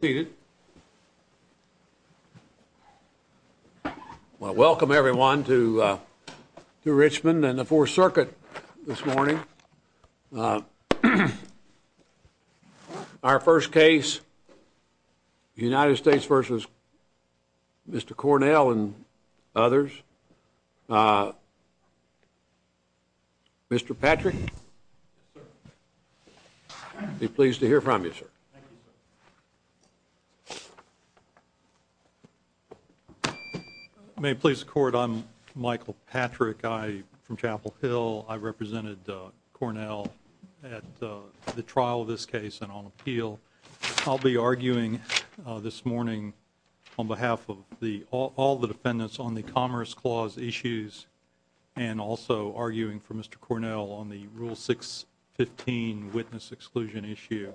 seated. Well, welcome everyone to uh to Richmond and the Fourth Circuit this morning. Uh, our first case, the United States versus Mr Cornell and others. Uh, Mr Patrick. Thank you. May please court. I'm Michael Patrick. I from Chapel Hill. I represented Cornell at the trial of this case and on appeal. I'll be arguing this morning on behalf of the all the defendants on the Commerce Clause issues and also arguing for Mr Cornell on the rule 6 15 witness exclusion issue.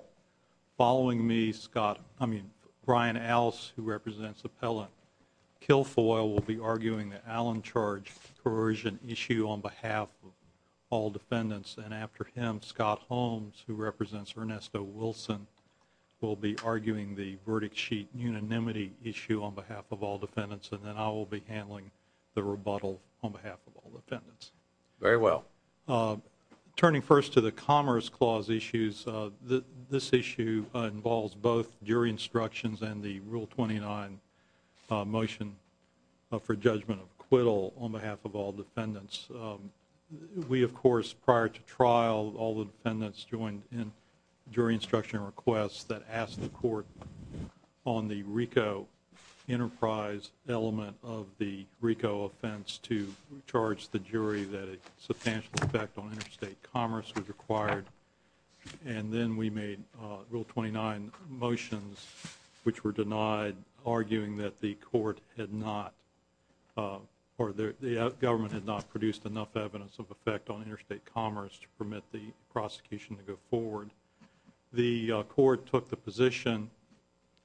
Following me, Scott, I mean, Brian Alice, who represents the pellet kill foil, will be arguing the Allen charge coercion issue on behalf of all defendants. And after him, Scott Holmes, who represents Ernesto Wilson, will be arguing the verdict sheet unanimity issue on behalf of all defendants. And then I will be handling the rebuttal on behalf of all this issue involves both jury instructions and the rule 29 motion for judgment of acquittal on behalf of all defendants. We, of course, prior to trial, all the defendants joined in jury instruction requests that asked the court on the Rico enterprise element of the Rico offense to charge the jury that a substantial effect on interstate commerce was required. And then we made rule 29 motions, which were denied, arguing that the court had not or the government had not produced enough evidence of effect on interstate commerce to permit the prosecution to go forward. The court took the position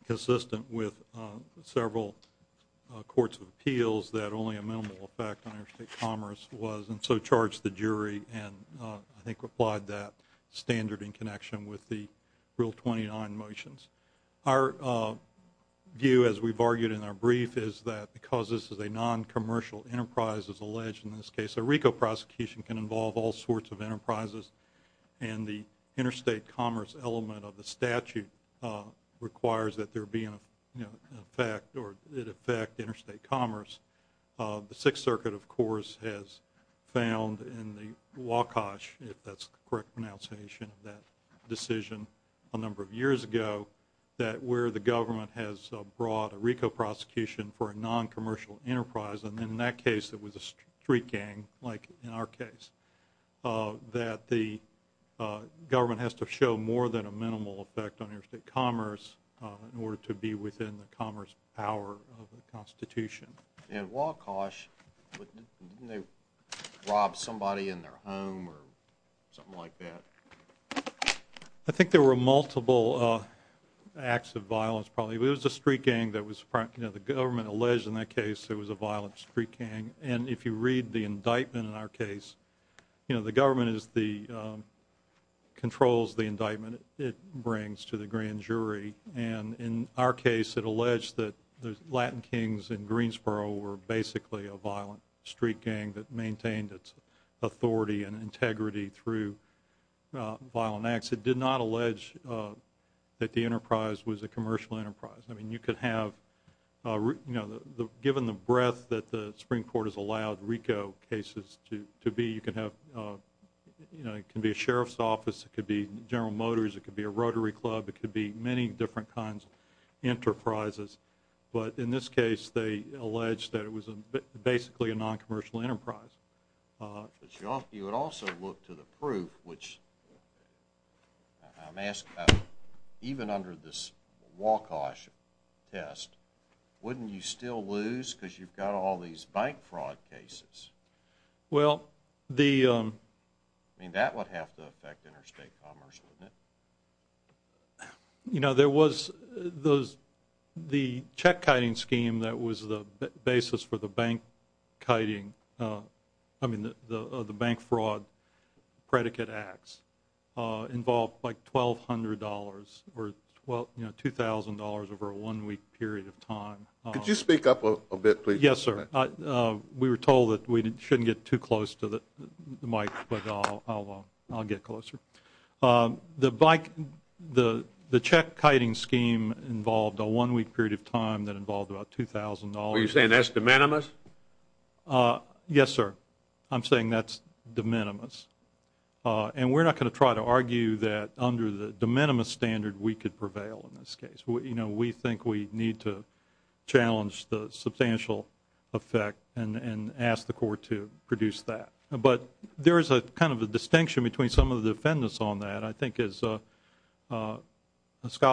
consistent with several courts of appeals that only a minimal effect on interstate commerce was and so charged the jury and I think replied that standard in connection with the rule 29 motions. Our view, as we've argued in our brief, is that because this is a non-commercial enterprise, as alleged in this case, a Rico prosecution can involve all sorts of enterprises. And the interstate commerce element of the statute requires that there be an effect or it affect interstate commerce. The Sixth Circuit, of course, has found in the WACOSH, if that's the correct pronunciation of that decision, a number of years ago, that where the government has brought a Rico prosecution for a non-commercial enterprise, and in that case it was a street gang, like in our case, that the government has to show more than a minimal effect on interstate commerce in order to be within the commerce power of the Constitution. And WACOSH, didn't they rob somebody in their home or something like that? I think there were multiple acts of violence probably. It was a street gang that was, you know, the government alleged in that case it was a violent street gang and if you read the indictment in our case, you know, the government controls the indictment it brings to the grand jury. And in our case, it alleged that the Latin kings in Greensboro were basically a violent street gang that maintained its authority and integrity through violent acts. It did not allege that the enterprise was a commercial enterprise. I mean, you could have, you know, given the breadth that the Supreme Court has allowed Rico cases to be, you could have, you know, it could be a sheriff's office, it could be General Motors, it could be a Rotary Club, it could be many different kinds of enterprises. But in this case, they alleged that it was basically a non-commercial enterprise. But you would also look to the proof, which I'm asked about, even under this WACOSH test, wouldn't you still lose because you've got all these bank fraud cases? I mean, that would have to affect interstate commerce, wouldn't it? You know, there was the check-kiting scheme that was the basis for the bank-kiting, I mean, the bank fraud predicate acts involved like $1,200 or $2,000 over a one-week period of time. Could you speak up a bit, please? Yes, sir. We were told that we shouldn't get too close to the mic, but I'll get closer. The check-kiting scheme involved a one-week period of time that involved about $2,000. Are you saying that's de minimis? Yes, sir. I'm saying that's de minimis. And we're not going to try to argue that under the de minimis standard we could prevail in this case. You know, we think we need to challenge the substantial effect and ask the court to produce that. But there is a kind of a distinction between some of the defendants on that. I think as Scott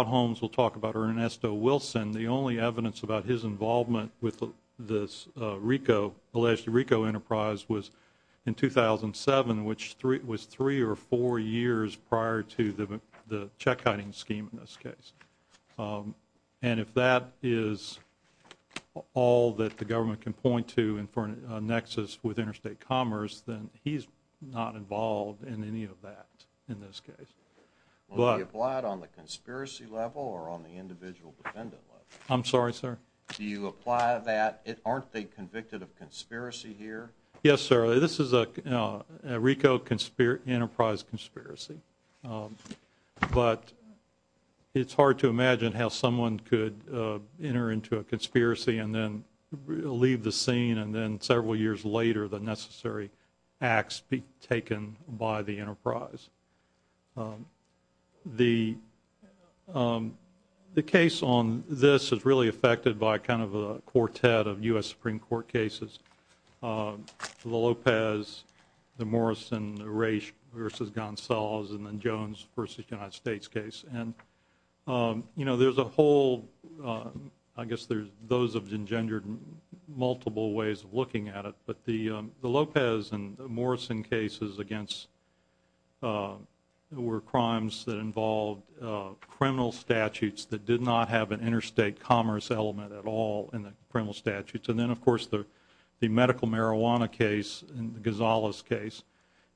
Holmes will talk about or Ernesto Wilson, the only evidence about his involvement with this RICO, alleged RICO enterprise, was in 2007, which was three or four years prior to the check-kiting scheme in this case. And if that is all that the government can point to and for a nexus with interstate commerce, then he's not involved in any of that in this case. Will he apply it on the conspiracy level or on the individual defendant level? I'm sorry, sir? Do you apply that? Aren't they convicted of conspiracy here? Yes, sir. This is a RICO enterprise conspiracy. But it's hard to imagine how someone could enter into a conspiracy and then leave the scene and then several years later the necessary acts be taken by the enterprise. The case on this is really affected by kind of a quartet of U.S. Supreme Court cases. The Lopez, the Morrison race versus Gonzalez, and then Jones versus United States case. And you know, there's a whole, I guess there's those have engendered multiple ways of looking at it. But the Lopez and Morrison cases against were crimes that involved criminal statutes that did not have an interstate commerce element at all in the criminal statutes. And then, of course, the medical marijuana case and the Gonzalez case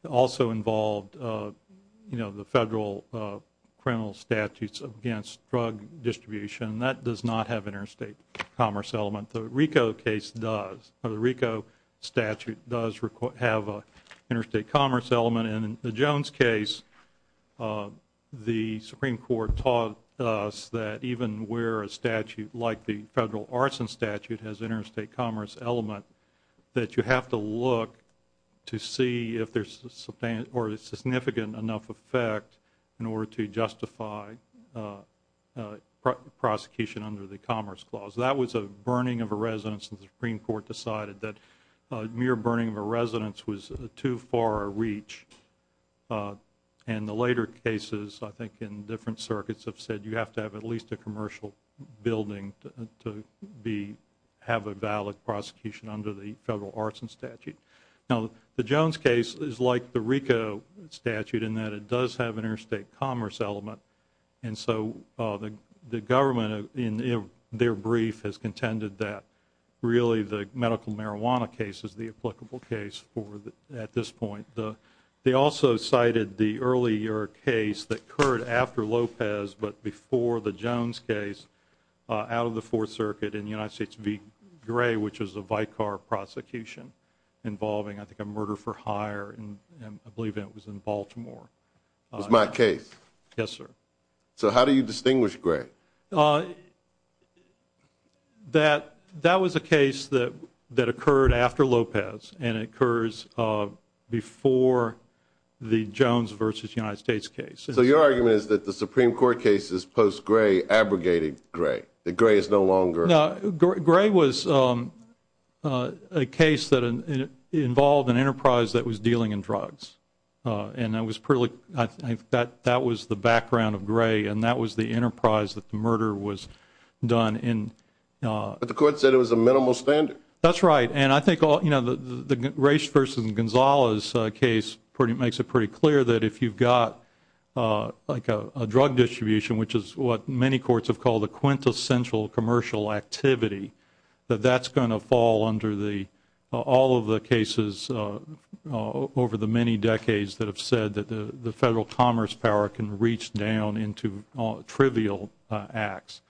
also involved, you know, the federal criminal statutes against drug distribution. That does not have an interstate commerce element. The RICO case does. The RICO statute does have an interstate commerce element. And in the Jones case, the Supreme Court taught us that even where a statute like the federal arson statute has interstate commerce element, that you have to look to see if there's a significant enough effect in order to justify prosecution under the Commerce Clause. That was a burning of a residence and the Supreme Court decided that a mere burning of a residence was too far a reach. And the later cases, I think, in different circuits have said you have to have at least a commercial building to be have a valid prosecution under the federal arson statute. Now, the Jones case is like the RICO statute in that it does have an interstate commerce element. And so the government in their brief has contended that really the medical marijuana case is the applicable case for at this point. They also cited the earlier case that occurred after Lopez but before the Jones case out of the Fourth Circuit in the United States v. Gray, which was a Vicar prosecution involving, I think, a murder-for-hire and I believe it was in Baltimore. It was my case? Yes, sir. So how do you distinguish Gray? Okay. That was a case that occurred after Lopez and it occurs before the Jones v. United States case. So your argument is that the Supreme Court cases post-Gray abrogated Gray, that Gray is no longer? No. Gray was a case that involved an enterprise that was dealing in drugs. And that was the background of Gray and that was the enterprise that the murder was done in. But the court said it was a minimal standard. That's right. And I think the Race v. Gonzalez case makes it pretty clear that if you've got like a drug distribution, which is what many courts have called a quintessential commercial activity, that that's going to fall under all of the cases over the many decades that have said that the Federal Commerce Power can reach down into trivial acts.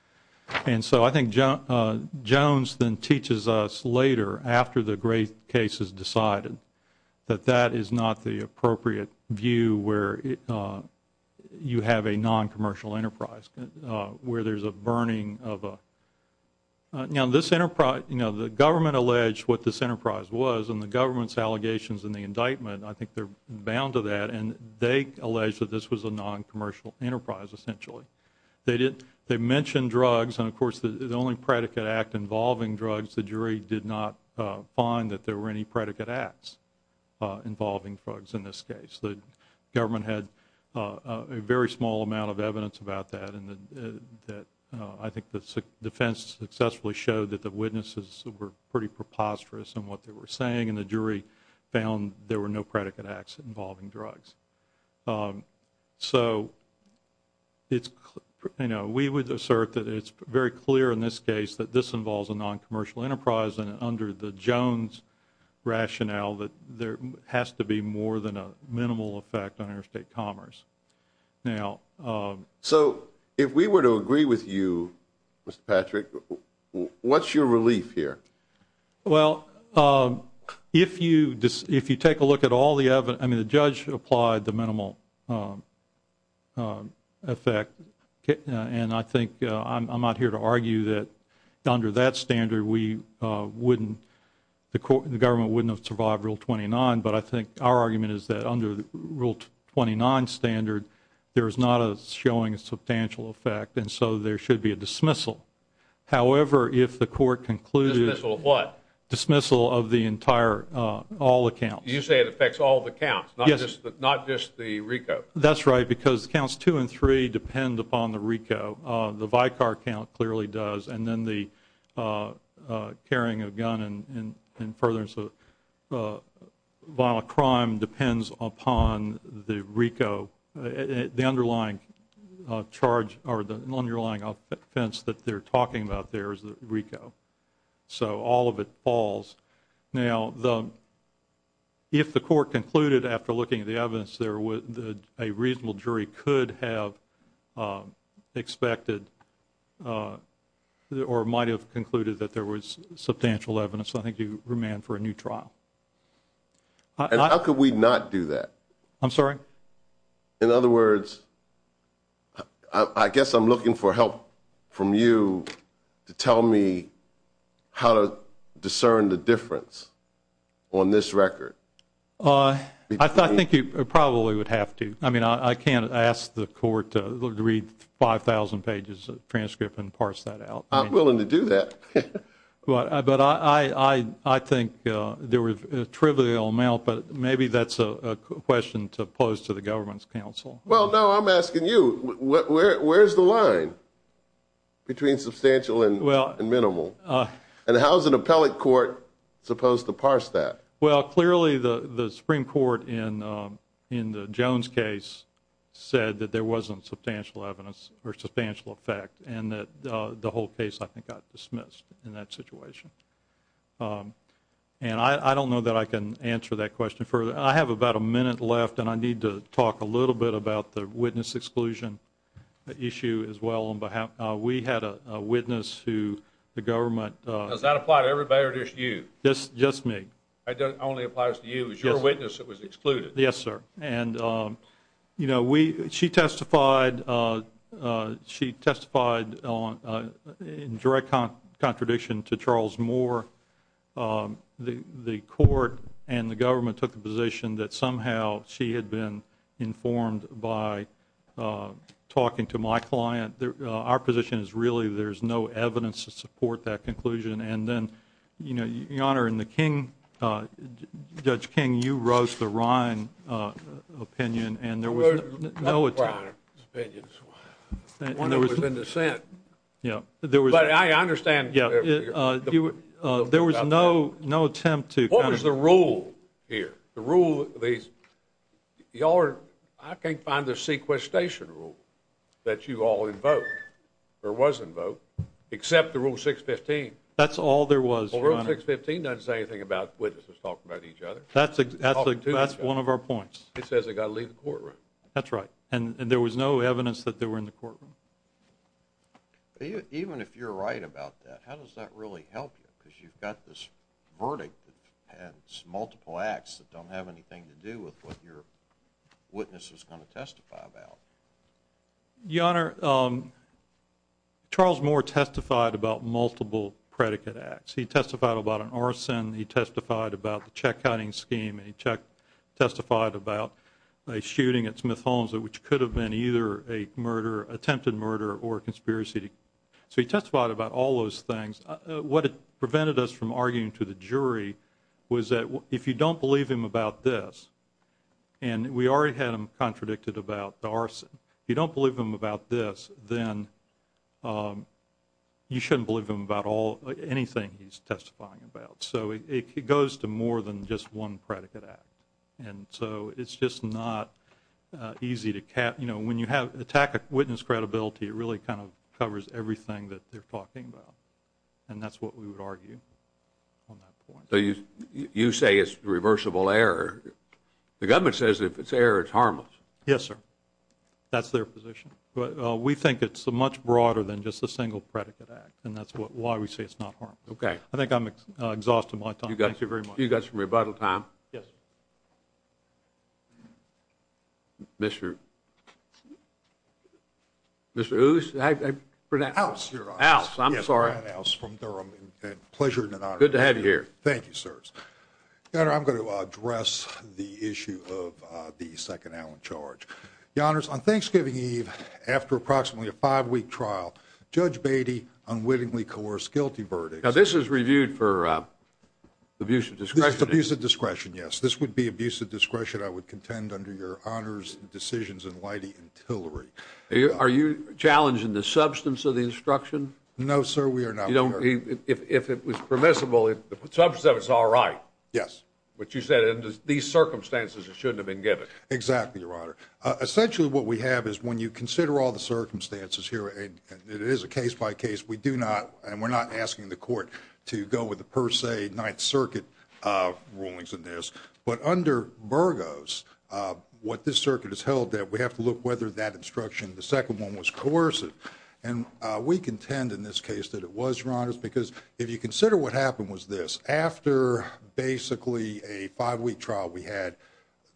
And so I think Jones then teaches us later, after the Gray case is decided, that that is not the appropriate view where you have a non-commercial enterprise, where there's a burning of a... Now this enterprise, you know, the government alleged what this enterprise was and the government's allegations in the indictment, I think they're bound to that, and they alleged that this was a non-commercial enterprise essentially. They mentioned drugs and of course the only predicate act involving drugs, the jury did not find that there were any predicate acts involving drugs in this case. The government had a very small amount of evidence about that and that I think the defense successfully showed that the witnesses were pretty preposterous in what they were saying and the jury found there were no predicate acts involving drugs. So it's, you know, we would assert that it's very clear in this case that this involves a non-commercial enterprise and under the Jones rationale that there has to be more than a minimal effect on interstate commerce. Now, so if we were to agree with you, Mr. Patrick, what's your relief here? Well, if you take a look at all the evidence, I mean the judge applied the minimal effect and I think I'm not here to argue that under that standard we wouldn't, the court, the government wouldn't have survived Rule 29, but I think our argument is that under Rule 29 standard there is not a showing a substantial effect and so there should be a dismissal. However, if the court concluded... Dismissal of what? Dismissal of the entire, all accounts. You say it affects all the counts? Yes. Not just the RICO? That's right because counts two and three depend upon the RICO. The Vicar count clearly does and then the carrying a gun and furtherance of violent crime depends upon the RICO. The underlying charge or the underlying offense that they're talking about there is the RICO. So all of it falls. Now, if the court concluded after looking at the evidence there that a reasonable jury could have expected or might have concluded that there was substantial evidence, I think you remand for a new trial. And how could we not do that? I'm sorry? In other words, I guess I'm looking for help from you to tell me how to discern the difference on this record. I think you probably would have to. I mean, I can't ask the court to read 5,000 pages of transcript and parse that out. I'm willing to do that. But I think there was a trivial amount, but maybe that's a question to pose to the government's counsel. Well, no, I'm asking you, where's the line between substantial and minimal? And how is an appellate court supposed to parse that? Well, clearly the Supreme Court in the Jones case said that there wasn't substantial evidence or substantial effect and that the whole case, I think, got dismissed in that situation. And I don't know that I can answer that question further. I have about a minute left and I need to talk a little bit about the witness exclusion issue as well. We had a witness who the government... Does that apply to everybody or just you? Just me. It only applies to you. It was your witness that was excluded? Yes, sir. And she testified in direct contradiction to Charles Moore. The court and the government took the position that somehow she had been informed by talking to my client. Our position is really there's no evidence to support that conclusion. And then, Your Honor, in the King... Judge King, you wrote the Ryan opinion and there was no attempt... Not the Ryan opinion. The one that was in dissent. Yeah, there was... But I understand... There was no attempt to... What was the rule here? The rule... I can't find the sequestration rule. That you all invoked, or was invoked, except the Rule 615. That's all there was, Your Honor. Rule 615 doesn't say anything about witnesses talking about each other. That's one of our points. It says they got to leave the courtroom. That's right. And there was no evidence that they were in the courtroom. Even if you're right about that, how does that really help you? Because you've got this verdict that has multiple acts that don't have anything to do with what your witness is going to testify about. Your Honor, Charles Moore testified about multiple predicate acts. He testified about an arson. He testified about the check-counting scheme. He testified about a shooting at Smith Holmes, which could have been either a murder, attempted murder, or a conspiracy. So he testified about all those things. What prevented us from arguing to the jury was that if you don't believe him about this, and we already had him contradicted about the arson, if you don't believe him about this, then you shouldn't believe him about anything he's testifying about. So it goes to more than just one predicate act. And so it's just not easy to cap, you know, when you attack a witness credibility, it really kind of covers everything that they're talking about. And that's what we would argue on that point. You say it's reversible error. The government says if it's error, it's harmless. Yes, sir. That's their position. But we think it's much broader than just a single predicate act. And that's why we say it's not harmless. Okay. I think I'm exhausted my time. Thank you very much. You've got some rebuttal time. Yes. Mr. Mr. Ouse? Ouse, Your Honor. Ouse, I'm sorry. Ouse from Durham. Pleasure and an honor. Good to have you here. Thank you, sirs. Your Honor, I'm going to address the issue of the second Allen charge. Your Honors, on Thanksgiving Eve, after approximately a five-week trial, Judge Beatty unwittingly coerced guilty verdict. Now, this is reviewed for abuse of discretion. Abuse of discretion, yes. This would be abuse of discretion I would contend under your honors, decisions, and lightly antillery. Are you challenging the substance of the instruction? No, sir. We are not. If it was permissible, the substance of it is all right. Yes. But you said under these circumstances, it shouldn't have been given. Exactly, Your Honor. Essentially, what we have is when you consider all the circumstances here, it is a case by case. We do not, and we're not asking the court to go with the per se Ninth Circuit rulings in this. But under Burgos, what this circuit has held that we have to look whether that instruction, the second one was coercive. And we contend in this case that it was, Your Honor, because if you consider what happened was this. After basically a five-week trial, we had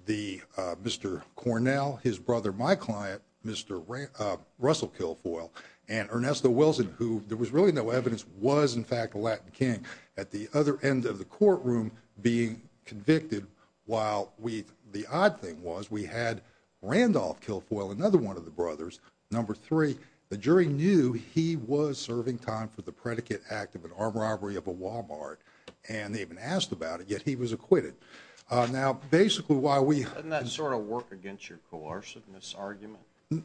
Mr. Cornell, his brother, my client, Mr. Russell Kilfoyle, and Ernesto Wilson, who there was really no evidence, was in fact a Latin King at the other end of the courtroom being convicted, while the odd thing was we had Randolph Kilfoyle, another one of the brothers, number three. The jury knew he was serving time for the predicate act of an armed robbery of a Walmart, and they even asked about it, yet he was acquitted. Now, basically, why we. Doesn't that sort of work against your coerciveness argument?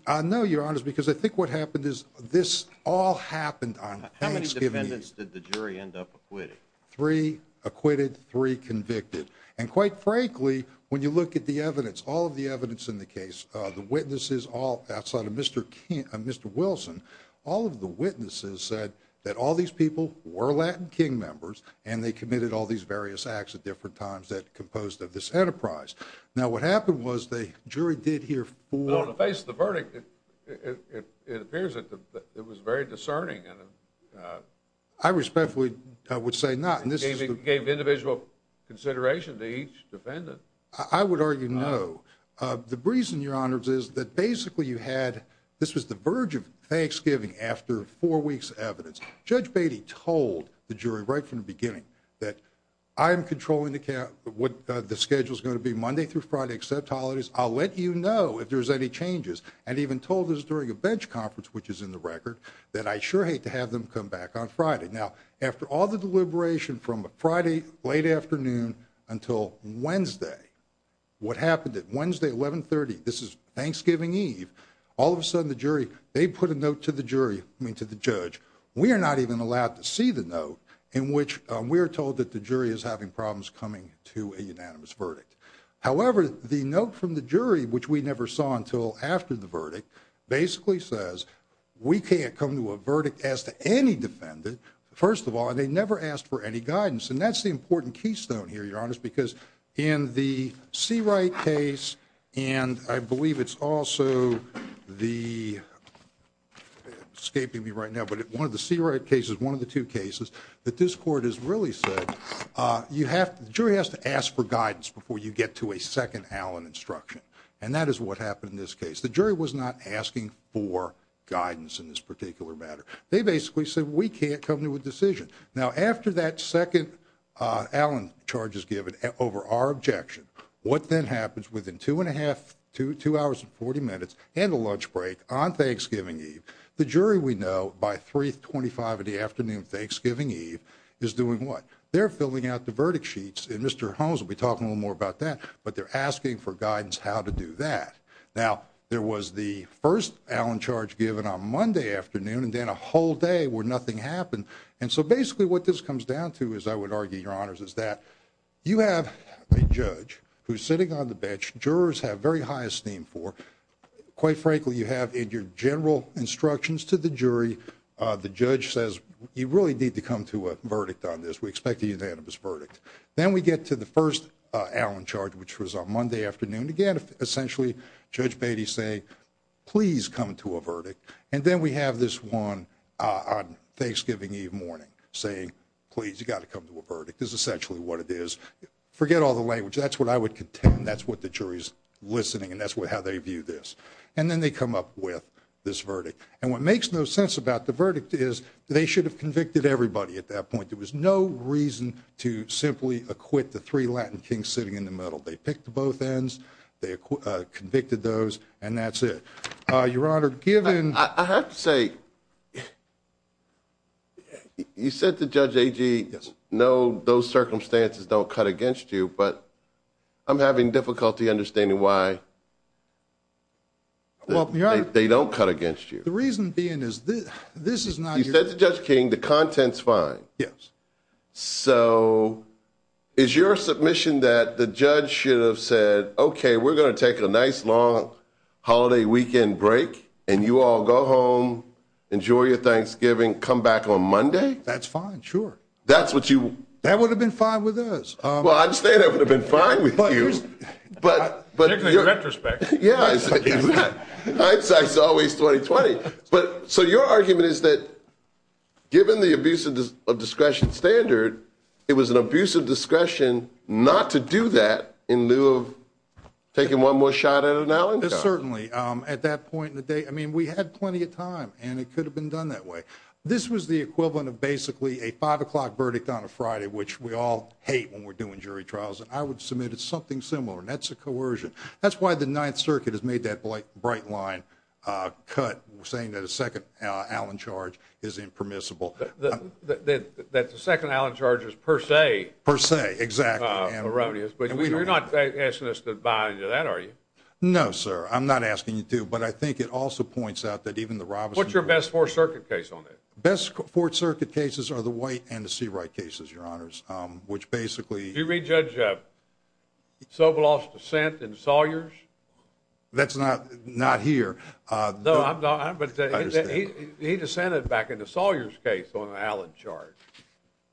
I know, Your Honor, because I think what happened is this all happened on Thanksgiving Eve. How many defendants did the jury end up acquitting? Three acquitted, three convicted. And quite frankly, when you look at the evidence, all of the evidence in the case, the witnesses, all outside of Mr. Wilson, all of the witnesses said that all these people were Latin King members, and they committed all these various acts at different times that composed of this enterprise. Now, what happened was the jury did hear four. But on the face of the verdict, it appears that it was very discerning. And I respectfully would say not. And this gave individual consideration to each defendant. I would argue no. The reason, Your Honors, is that basically you had, this was the verge of Thanksgiving after four weeks of evidence. Judge Beatty told the jury right from the beginning that I'm controlling what the schedule is going to be Monday through Friday except holidays. I'll let you know if there's any changes. And even told us during a bench conference, which is in the record, that I sure hate to have them come back on Friday. Now, after all the deliberation from a Friday late afternoon until Wednesday, what happened at Wednesday 1130, this is Thanksgiving Eve, all of a sudden the jury, they put a note to the jury, I mean to the judge. We are not even allowed to see the note in which we are told that the jury is having problems coming to a unanimous verdict. However, the note from the jury, which we never saw until after the verdict, basically says we can't come to a verdict as to any defendant, first of all, and they never asked for any guidance. And that's the important keystone here, Your Honor, because in the Seawright case, and I believe it's also the, escaping me right now, but one of the Seawright cases, one of the two cases, that this court has really said you have, the jury has to ask for guidance before you get to a second Allen instruction. And that is what happened in this case. The jury was not asking for guidance in this particular matter. They basically said we can't come to a decision. Now, after that second Allen charge is given over our objection, what then happens within two and a half, two hours and 40 minutes and a lunch break on Thanksgiving Eve, the jury we know by 325 in the afternoon Thanksgiving Eve is doing what? They're filling out the verdict sheets, and Mr. Holmes will be talking a little more about that, but they're asking for guidance how to do that. Now, there was the first Allen charge given on Monday afternoon and then a whole day where nothing happened. And so basically what this comes down to is, I would argue, Your Honors, is that you have a judge who's sitting on the bench, jurors have very high esteem for. Quite frankly, you have in your general instructions to the jury, the judge says you really need to come to a verdict on this. We expect a unanimous verdict. Then we get to the first Allen charge, which was on Monday afternoon. Again, essentially, Judge Beatty saying, please come to a verdict. And then we have this one on Thanksgiving Eve morning saying, please, you got to come to a verdict is essentially what it is. Forget all the language. That's what I would contend. That's what the jury's listening. And that's how they view this. And then they come up with this verdict. And what makes no sense about the verdict is they should have convicted everybody at that point. There was no reason to simply acquit the three Latin kings sitting in the middle. They picked both ends. They convicted those. And that's it. Your Honor, given I have to say. You said the judge, no, those circumstances don't cut against you, but I'm having difficulty understanding why. Well, they don't cut against you. The reason being is this is not you said to Judge King, the content's fine. Yes. So is your submission that the judge should have said, OK, we're going to take a nice long holiday weekend break and you all go home, enjoy your Thanksgiving, come back on Monday? That's fine. Sure. That's what you. That would have been fine with us. Well, I'm saying I would have been fine with you. But in retrospect. Yeah, it's always 2020. But so your argument is that given the abuse of discretion standard, it was an abuse of certainly at that point in the day. I mean, we had plenty of time and it could have been done that way. This was the equivalent of basically a five o'clock verdict on a Friday, which we all hate when we're doing jury trials. And I would submit it's something similar. And that's a coercion. That's why the Ninth Circuit has made that bright line cut, saying that a second Allen charge is impermissible. That the second Allen charge is per se. Per se. Exactly. Erroneous. But you're not asking us to buy into that, are you? No, sir. I'm not asking you to. But I think it also points out that even the Roberts. What's your best Fourth Circuit case on it? Best Fourth Circuit cases are the white and the see right cases, your honors, which basically. Do you read Judge Sobeloff's dissent in Sawyer's? That's not not here. No, I'm not. But he dissented back into Sawyer's case on an Allen charge.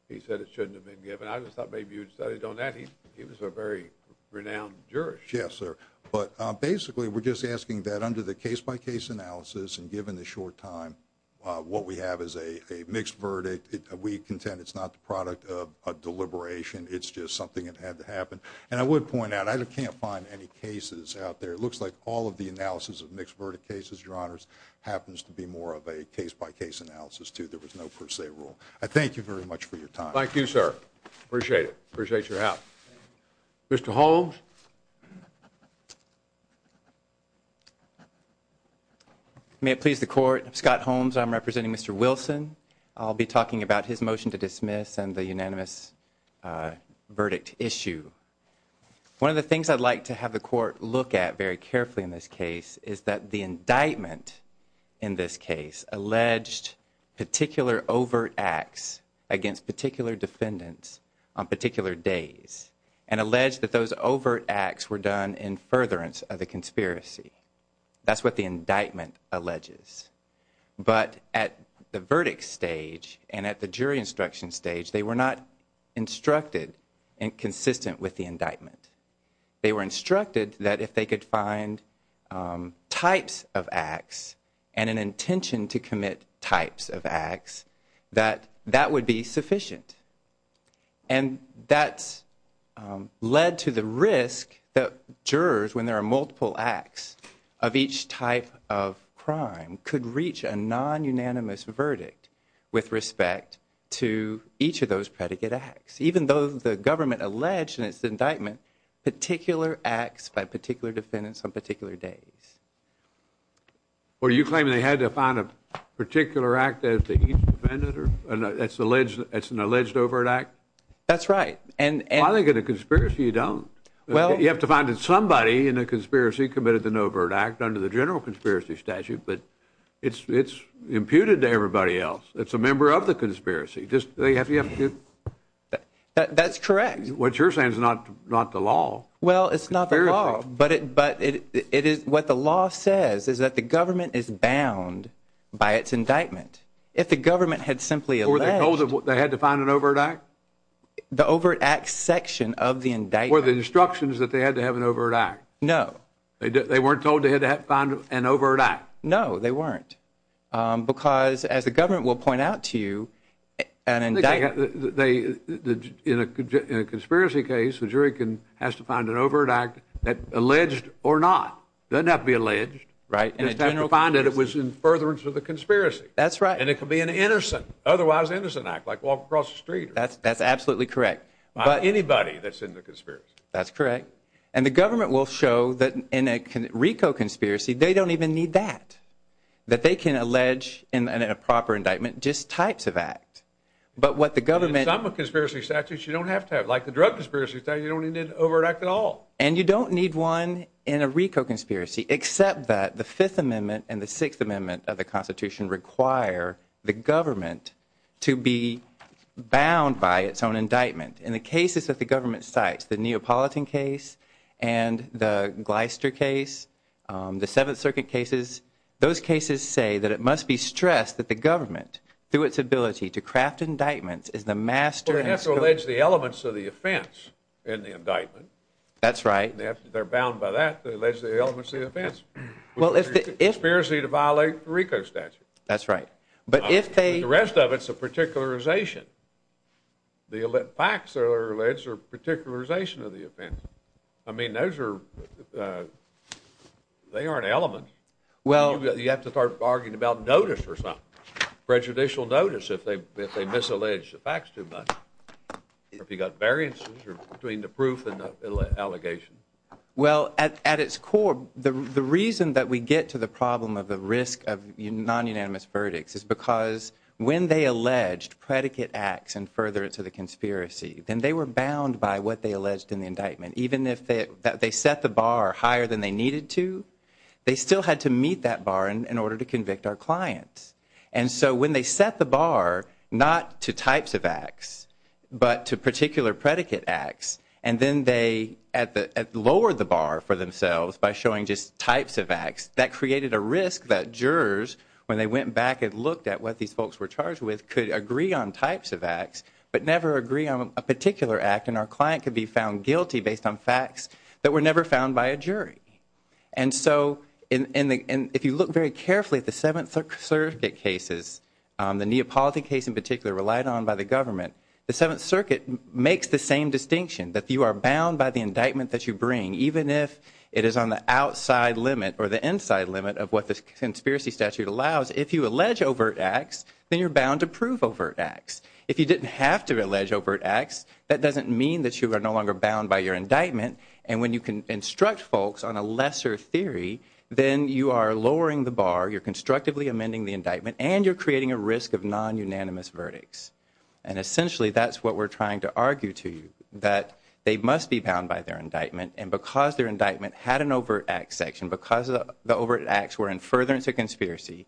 He said it shouldn't have been given. I just thought maybe you'd studied on that. He was a very renowned jurist. Yes, sir. But basically, we're just asking that under the case by case analysis. And given the short time, what we have is a mixed verdict. We contend it's not the product of a deliberation. It's just something that had to happen. And I would point out, I can't find any cases out there. It looks like all of the analysis of mixed verdict cases, your honors, happens to be more of a case by case analysis, too. There was no per se rule. I thank you very much for your time. Thank you, sir. Appreciate it. Appreciate your help. Mr. Holmes. May it please the court. Scott Holmes. I'm representing Mr. Wilson. I'll be talking about his motion to dismiss and the unanimous verdict issue. One of the things I'd like to have the court look at very carefully in this case is that the indictment in this case alleged particular overt acts against particular defendants on particular days and alleged that those overt acts were done in furtherance of the conspiracy. That's what the indictment alleges. But at the verdict stage and at the jury instruction stage, they were not instructed and consistent with the indictment. They were instructed that if they could find types of acts and an intention to commit types of acts, that that would be sufficient. And that's led to the risk that jurors, when there are multiple acts of each type of crime, could reach a non-unanimous verdict with respect to each of those predicate acts, even though the government alleged in its indictment particular acts by particular defendants on particular days. Well, you claim they had to find a particular act that they each defended, or that's an alleged overt act? That's right. And I think in a conspiracy, you don't. Well, you have to find that somebody in a conspiracy committed an overt act under the general conspiracy statute. But it's imputed to everybody else. It's a member of the conspiracy. Just they have to. That's correct. What you're saying is not the law. Well, it's not the law. But what the law says is that the government is bound by its indictment. If the government had simply alleged- Were they told they had to find an overt act? The overt act section of the indictment- Were the instructions that they had to have an overt act? No. They weren't told they had to find an overt act? No, they weren't. Because, as the government will point out to you, an indictment- They, in a conspiracy case, the jury has to find an overt act that, alleged or not, doesn't have to be alleged. Right. Just have to find that it was in furtherance of the conspiracy. That's right. And it could be an innocent, otherwise innocent act, like walk across the street. That's absolutely correct. By anybody that's in the conspiracy. That's correct. And the government will show that in a RICO conspiracy, they don't even need that. That they can allege, in a proper indictment, just types of act. But what the government- Some conspiracy statutes, you don't have to have. Like the drug conspiracy statute, you don't need an overt act at all. And you don't need one in a RICO conspiracy, except that the Fifth Amendment and the Sixth Amendment of the Constitution require the government to be bound by its own indictment. In the cases that the government cites, the Neapolitan case and the Gleister case, the Seventh Circuit cases, those cases say that it must be stressed that the government, through its ability to craft indictments, is the master- Well, they have to allege the elements of the offense in the indictment. That's right. And if they're bound by that, they allege the elements of the offense. Well, if the- Conspiracy to violate the RICO statute. That's right. But if they- The rest of it's a particularization. The facts that are alleged are a particularization of the offense. I mean, those are, they aren't elements. Well- You have to start arguing about notice or something. Prejudicial notice if they misallege the facts too much. If you've got variances between the proof and the allegation. Well, at its core, the reason that we get to the problem of the risk of non-unanimous verdicts is because when they alleged predicate acts in furtherance of the conspiracy, then they were bound by what they alleged in the indictment. Even if they set the bar higher than they needed to, they still had to meet that bar in order to convict our clients. And so when they set the bar, not to types of acts, but to particular predicate acts, and then they lowered the bar for themselves by showing just types of acts, that created a risk that jurors, when they went back and looked at what these folks were charged with, could agree on types of acts, but never agree on a particular act. And our client could be found guilty based on facts that were never found by a jury. And so if you look very carefully at the Seventh Circuit cases, the Neapolitan case in particular, relied on by the government, the Seventh Circuit makes the same distinction, that you are bound by the indictment that you bring, even if it is on the outside limit or the inside limit of what the conspiracy statute allows. If you allege overt acts, then you're bound to prove overt acts. If you didn't have to allege overt acts, that doesn't mean that you are no longer bound by your indictment. And when you can instruct folks on a lesser theory, then you are lowering the bar, you're constructively amending the indictment, and you're creating a risk of non-unanimous verdicts. And essentially, that's what we're trying to argue to you, that they must be bound by their indictment. And because their indictment had an overt acts section, because the overt acts were in furtherance of conspiracy,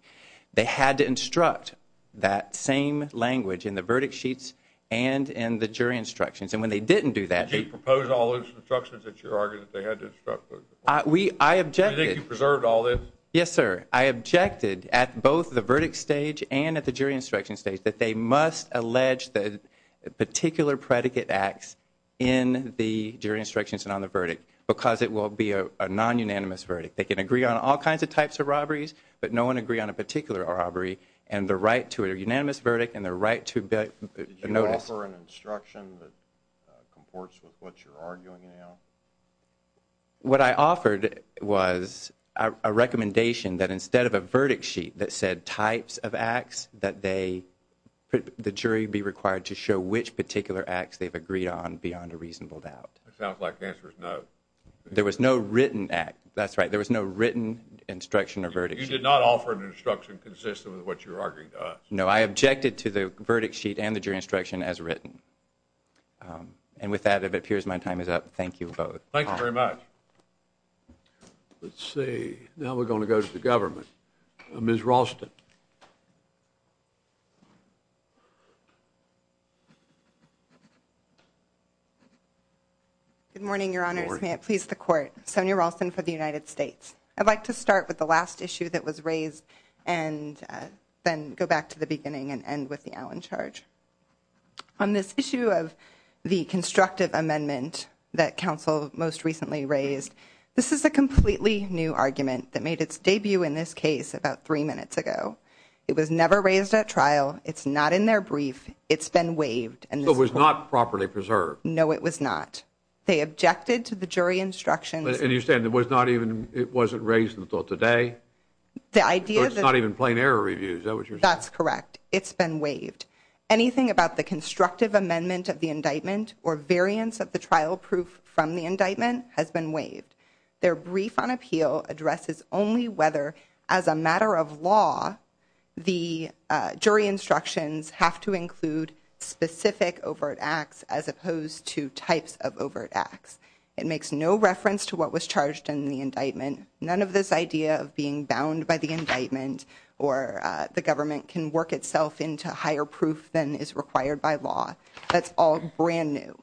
they had to instruct that same language in the verdict sheets and in the jury instructions. And when they didn't do that... Did you propose all those instructions that you argued that they had to instruct folks? We, I objected... Do you think you preserved all this? Yes, sir. I objected at both the verdict stage and at the jury instruction stage, that they must allege the particular predicate acts in the jury instructions and on the verdict, because it will be a non-unanimous verdict. They can agree on all kinds of types of robberies, but no one agree on a particular robbery, and the right to a unanimous verdict and the right to... Did you offer an instruction that comports with what you're arguing now? What I offered was a recommendation that instead of a verdict sheet that said types of acts, that the jury be required to show which particular acts they've agreed on beyond a reasonable doubt. It sounds like the answer is no. There was no written act. That's right. There was no written instruction or verdict. You did not offer an instruction consistent with what you're arguing to us. I objected to the verdict sheet and the jury instruction as written. And with that, it appears my time is up. Thank you both. Thank you very much. Let's see. Now we're going to go to the government. Ms. Ralston. Good morning, your honors. May it please the court. Sonia Ralston for the United States. I'd like to start with the last issue that was raised and then go back to the beginning and end with the Allen charge. On this issue of the constructive amendment that counsel most recently raised, this is a completely new argument that made its debut in this case about three minutes ago. It was never raised at trial. It's not in their brief. It's been waived. And it was not properly preserved. No, it was not. They objected to the jury instructions. And you said it was not even it wasn't raised in the thought today. The idea is not even plain error reviews. That was your that's correct. It's been waived. Anything about the constructive amendment of the indictment or variants of the trial proof from the indictment has been waived. Their brief on appeal addresses only whether as a matter of law, the jury instructions have to include specific overt acts as opposed to types of overt acts. It makes no reference to what was charged in the indictment. None of this idea of being bound by the indictment or the government can work itself into higher proof than is required by law. That's all brand new.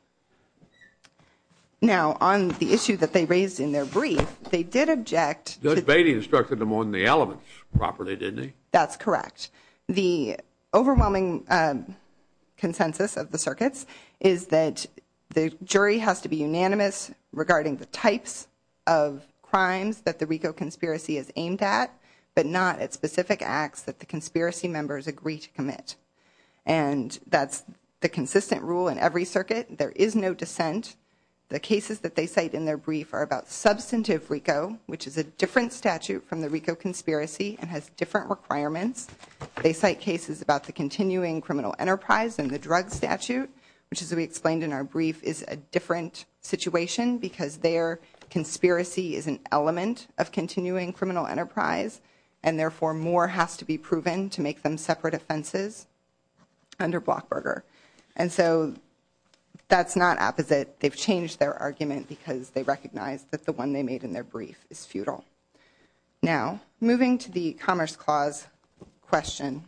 Now, on the issue that they raised in their brief, they did object. Judge Beatty instructed them on the elements properly, didn't he? That's correct. The overwhelming consensus of the circuits is that the jury has to be unanimous regarding the types of crimes that the RICO conspiracy is aimed at, but not at specific acts that the conspiracy members agree to commit. And that's the consistent rule in every circuit. There is no dissent. The cases that they cite in their brief are about substantive RICO, which is a different statute from the RICO conspiracy and has different requirements. They cite cases about the continuing criminal enterprise and the drug statute, which, as we explained in our brief, is a different situation because their conspiracy is an element of continuing criminal enterprise, and therefore more has to be proven to make them separate offenses under Blockburger. And so that's not opposite. They've changed their argument because they recognize that the one they made in their brief is futile. Now, moving to the Commerce Clause question.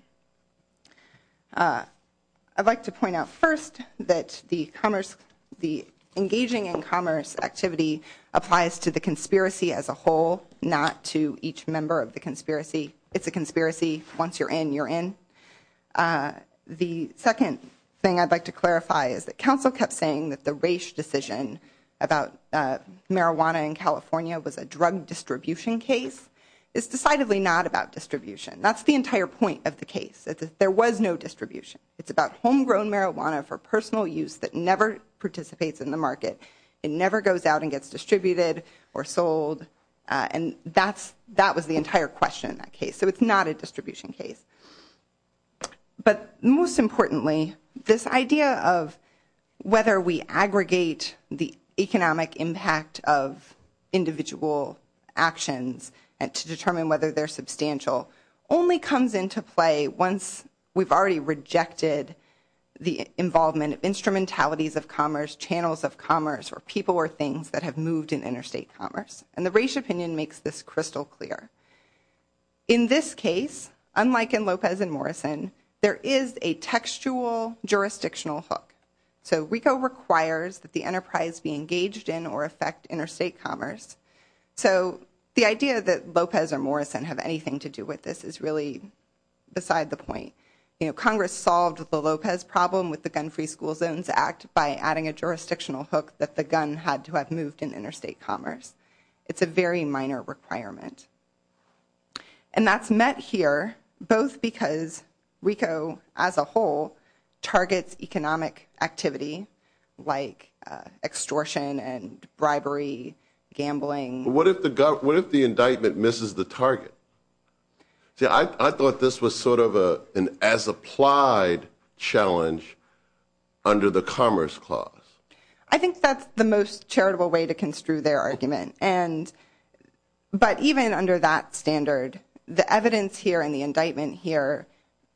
I'd like to point out first that the engaging in commerce activity applies to the conspiracy as a whole, not to each member of the conspiracy. It's a conspiracy. Once you're in, you're in. The second thing I'd like to clarify is that counsel kept saying that the Raich decision about marijuana in California was a drug distribution case. It's decidedly not about distribution. That's the entire point of the case. There was no distribution. It's about homegrown marijuana for personal use that never participates in the market. It never goes out and gets distributed or sold. And that was the entire question in that case. So it's not a distribution case. But most importantly, this idea of whether we aggregate the economic impact of individual actions to determine whether they're substantial only comes into play once we've already rejected the involvement of instrumentalities of commerce, channels of commerce, or people or things that have moved in interstate commerce. And the Raich opinion makes this crystal clear. In this case, unlike in Lopez and Morrison, there is a textual jurisdictional hook. So RICO requires that the enterprise be engaged in or affect interstate commerce. So the idea that Lopez or Morrison have anything to do with this is really beside the point. You know, Congress solved the Lopez problem with the Gun-Free School Zones Act by adding a jurisdictional hook that the gun had to have moved in interstate commerce. It's a very minor requirement. And that's met here both because RICO, as a whole, targets economic activity like extortion and bribery, gambling. But what if the government, what if the indictment misses the target? See, I thought this was sort of an as-applied challenge under the Commerce Clause. I think that's the most charitable way to construe their argument. And, but even under that standard, the evidence here and the indictment here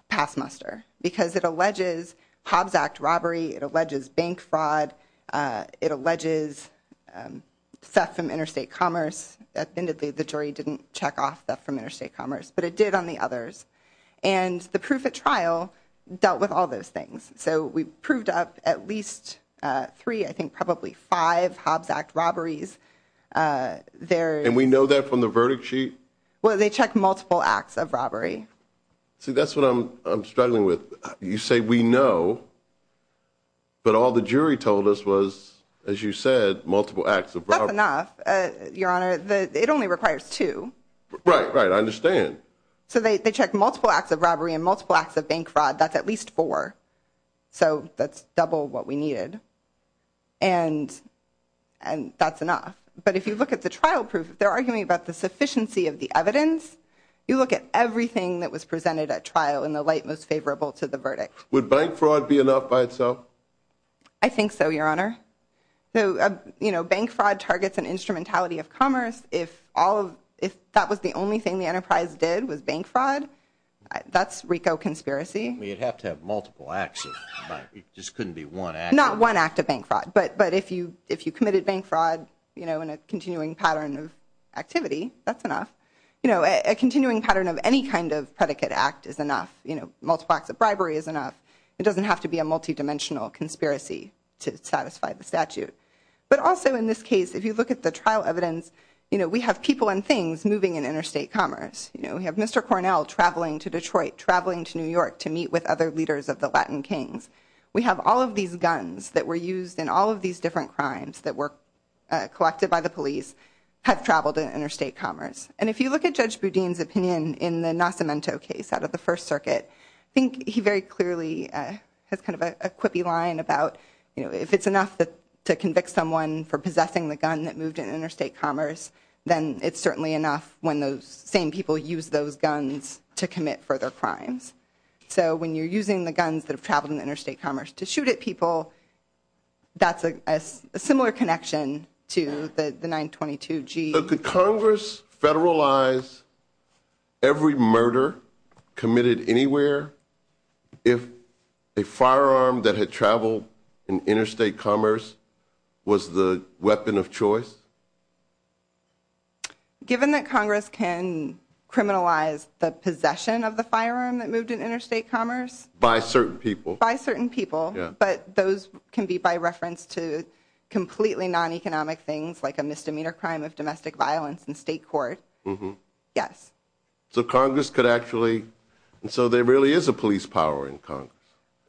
pass muster because it alleges Hobbs Act robbery, it alleges bank fraud, it alleges theft from interstate commerce. At the end of the day, the jury didn't check off theft from interstate commerce, but it did on the others. And the proof at trial dealt with all those things. So we proved up at least three, I think probably five, Hobbs Act robberies. And we know that from the verdict sheet? Well, they checked multiple acts of robbery. See, that's what I'm struggling with. You say we know, but all the jury told us was, as you said, multiple acts of robbery. That's enough, Your Honor. It only requires two. Right, right. I understand. So they checked multiple acts of robbery and multiple acts of bank fraud. That's at least four. So that's double what we needed. And that's enough. But if you look at the trial proof, they're arguing about the sufficiency of the evidence. You look at everything that was presented at trial in the light most favorable to the verdict. Would bank fraud be enough by itself? I think so, Your Honor. So, you know, bank fraud targets an instrumentality of commerce. If all of, if that was the only thing the enterprise did was bank fraud, that's RICO conspiracy. You'd have to have multiple acts. It just couldn't be one act. Not one act of bank fraud. But if you committed bank fraud, you know, in a continuing pattern of activity, that's enough. You know, a continuing pattern of any kind of predicate act is enough. You know, multiple acts of bribery is enough. It doesn't have to be a multidimensional conspiracy to satisfy the statute. But also in this case, if you look at the trial evidence, you know, we have people and things moving in interstate commerce. You know, we have Mr. Cornell traveling to Detroit, traveling to New York to meet with other leaders of the Latin Kings. We have all of these guns that were used in all of these different crimes that were collected by the police, have traveled in interstate commerce. And if you look at Judge Boudin's opinion in the Nascimento case out of the First Circuit, I think he very clearly has kind of a quippy line about, you know, if it's enough to convict someone for possessing the gun that moved in interstate commerce, then it's certainly enough when those same people use those guns to commit further crimes. So when you're using the guns that have traveled in interstate commerce to shoot at people, that's a similar connection to the 922-G. But could Congress federalize every murder committed anywhere if a firearm that had traveled in interstate commerce was the weapon of choice? Given that Congress can criminalize the possession of the firearm that moved in interstate commerce? By certain people. By certain people. But those can be by reference to completely non-economic things like a misdemeanor crime of domestic violence in state court. Mm-hmm. Yes. So Congress could actually, and so there really is a police power in Congress,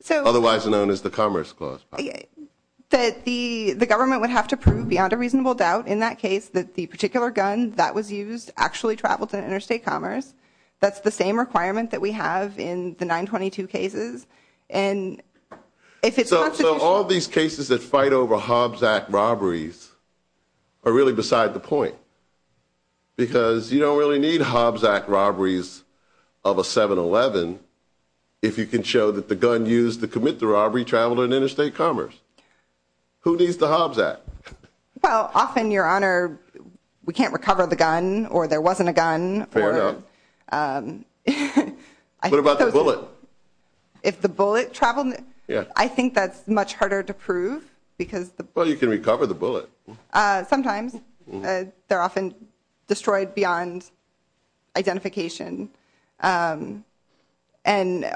otherwise known as the Commerce Clause. That the government would have to prove beyond a reasonable doubt in that case that the particular gun that was used actually traveled to interstate commerce. That's the same requirement that we have in the 922 cases. And if it's constitutional. So all these cases that fight over Hobbs Act robberies are really beside the point. Because you don't really need Hobbs Act robberies of a 7-11 if you can show that the gun used to commit the robbery traveled in interstate commerce. Who needs the Hobbs Act? Well, often, Your Honor, we can't recover the gun or there wasn't a gun. Fair enough. What about the bullet? If the bullet traveled, I think that's much harder to prove. Well, you can recover the bullet. Sometimes. They're often destroyed beyond identification. And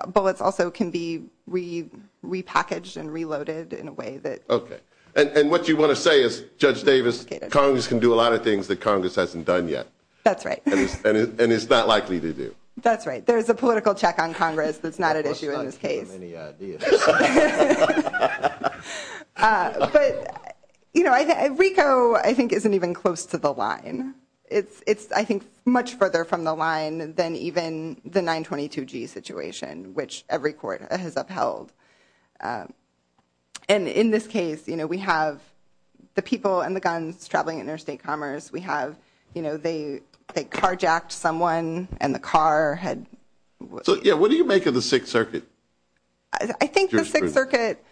bullets also can be repackaged and reloaded in a way that. OK. And what you want to say is, Judge Davis, Congress can do a lot of things that Congress hasn't done yet. That's right. And it's not likely to do. That's right. There's a political check on Congress that's not an issue in this case. But, you know, RICO, I think, isn't even close to the line. It's, I think, much further from the line than even the 922G situation, which every court has upheld. And in this case, you know, we have the people and the guns traveling interstate commerce. We have, you know, they carjacked someone and the car had. So, yeah, what do you make of the Sixth Circuit? I think the Sixth Circuit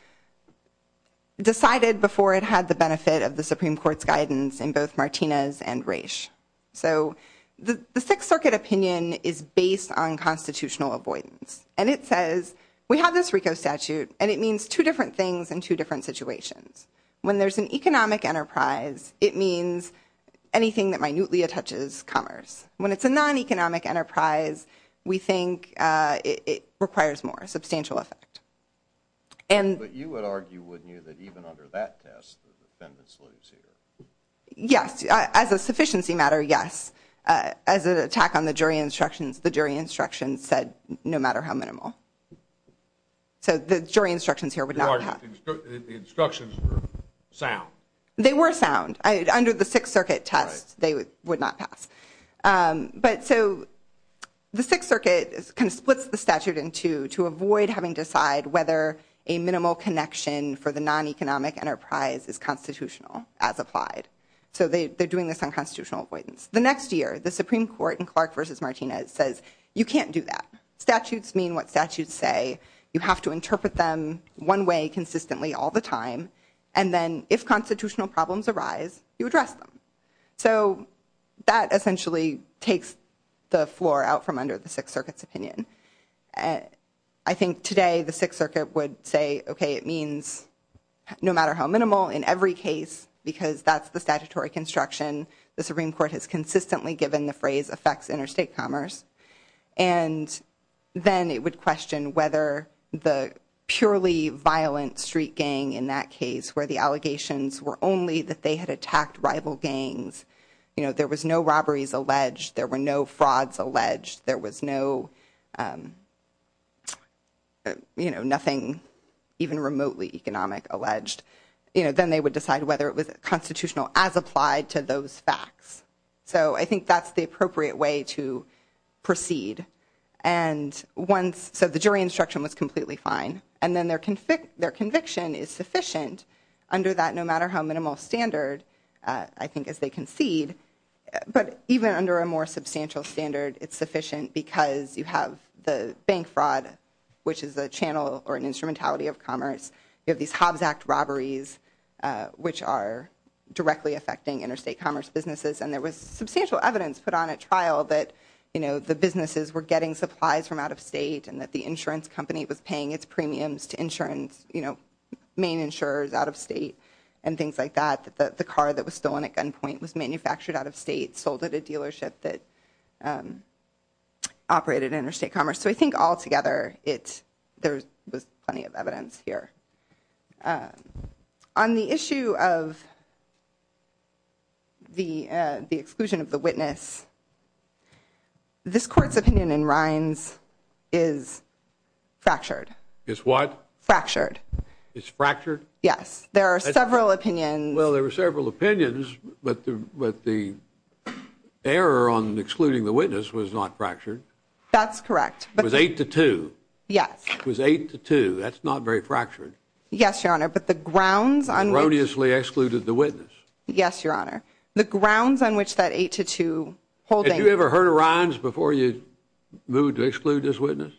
decided before it had the benefit of the Supreme Court's guidance in both Martinez and Raich. So the Sixth Circuit opinion is based on constitutional avoidance. And it says, we have this RICO statute, and it means two different things in two different situations. When there's an economic enterprise, it means anything that minutely touches commerce. When it's a non-economic enterprise, we think it requires more substantial effect. But you would argue, wouldn't you, that even under that test, the defendants lose here? Yes. As a sufficiency matter, yes. As an attack on the jury instructions, the jury instructions said no matter how minimal. So the jury instructions here would not pass. The instructions were sound. They were sound. Under the Sixth Circuit test, they would not pass. But so the Sixth Circuit kind of splits the statute in two to avoid having to decide whether a minimal connection for the non-economic enterprise is constitutional as applied. So they're doing this on constitutional avoidance. The next year, the Supreme Court in Clark versus Martinez says, you can't do that. Statutes mean what statutes say. You have to interpret them one way consistently all the time. And then if constitutional problems arise, you address them. So that essentially takes the floor out from under the Sixth Circuit's opinion. I think today the Sixth Circuit would say, OK, it means no matter how minimal in every case because that's the statutory construction, the Supreme Court has consistently given the phrase affects interstate commerce. And then it would question whether the purely violent street gang in that case where the allegations were only that they had attacked rival gangs, you know, there was no robberies alleged. There were no frauds alleged. There was no, you know, nothing even remotely economic alleged. You know, then they would decide whether it was constitutional as applied to those facts. So I think that's the appropriate way to proceed. And once, so the jury instruction was completely fine. And then their conviction is sufficient under that no matter how minimal standard, I think, as they concede. But even under a more substantial standard, it's sufficient because you have the bank fraud, which is a channel or an instrumentality of commerce. You have these Hobbs Act robberies, which are directly affecting interstate commerce businesses. And there was substantial evidence put on at trial that, you know, the businesses were getting supplies from out of state and that the insurance company was paying its premiums to insurance, you know, main insurers out of state and things like that. That the car that was stolen at gunpoint was manufactured out of state, sold at a dealership that operated interstate commerce. So I think altogether, there was plenty of evidence here. On the issue of the exclusion of the witness, this court's opinion in Rines is fractured. It's what? Fractured. It's fractured? Yes. There are several opinions. Well, there were several opinions, but the error on excluding the witness was not fractured. That's correct. It was eight to two. Yes. It was eight to two. That's not very fractured. Yes, Your Honor. But the grounds on which. Erroneously excluded the witness. Yes, Your Honor. The grounds on which that eight to two holding. Had you ever heard of Rines before you moved to exclude this witness?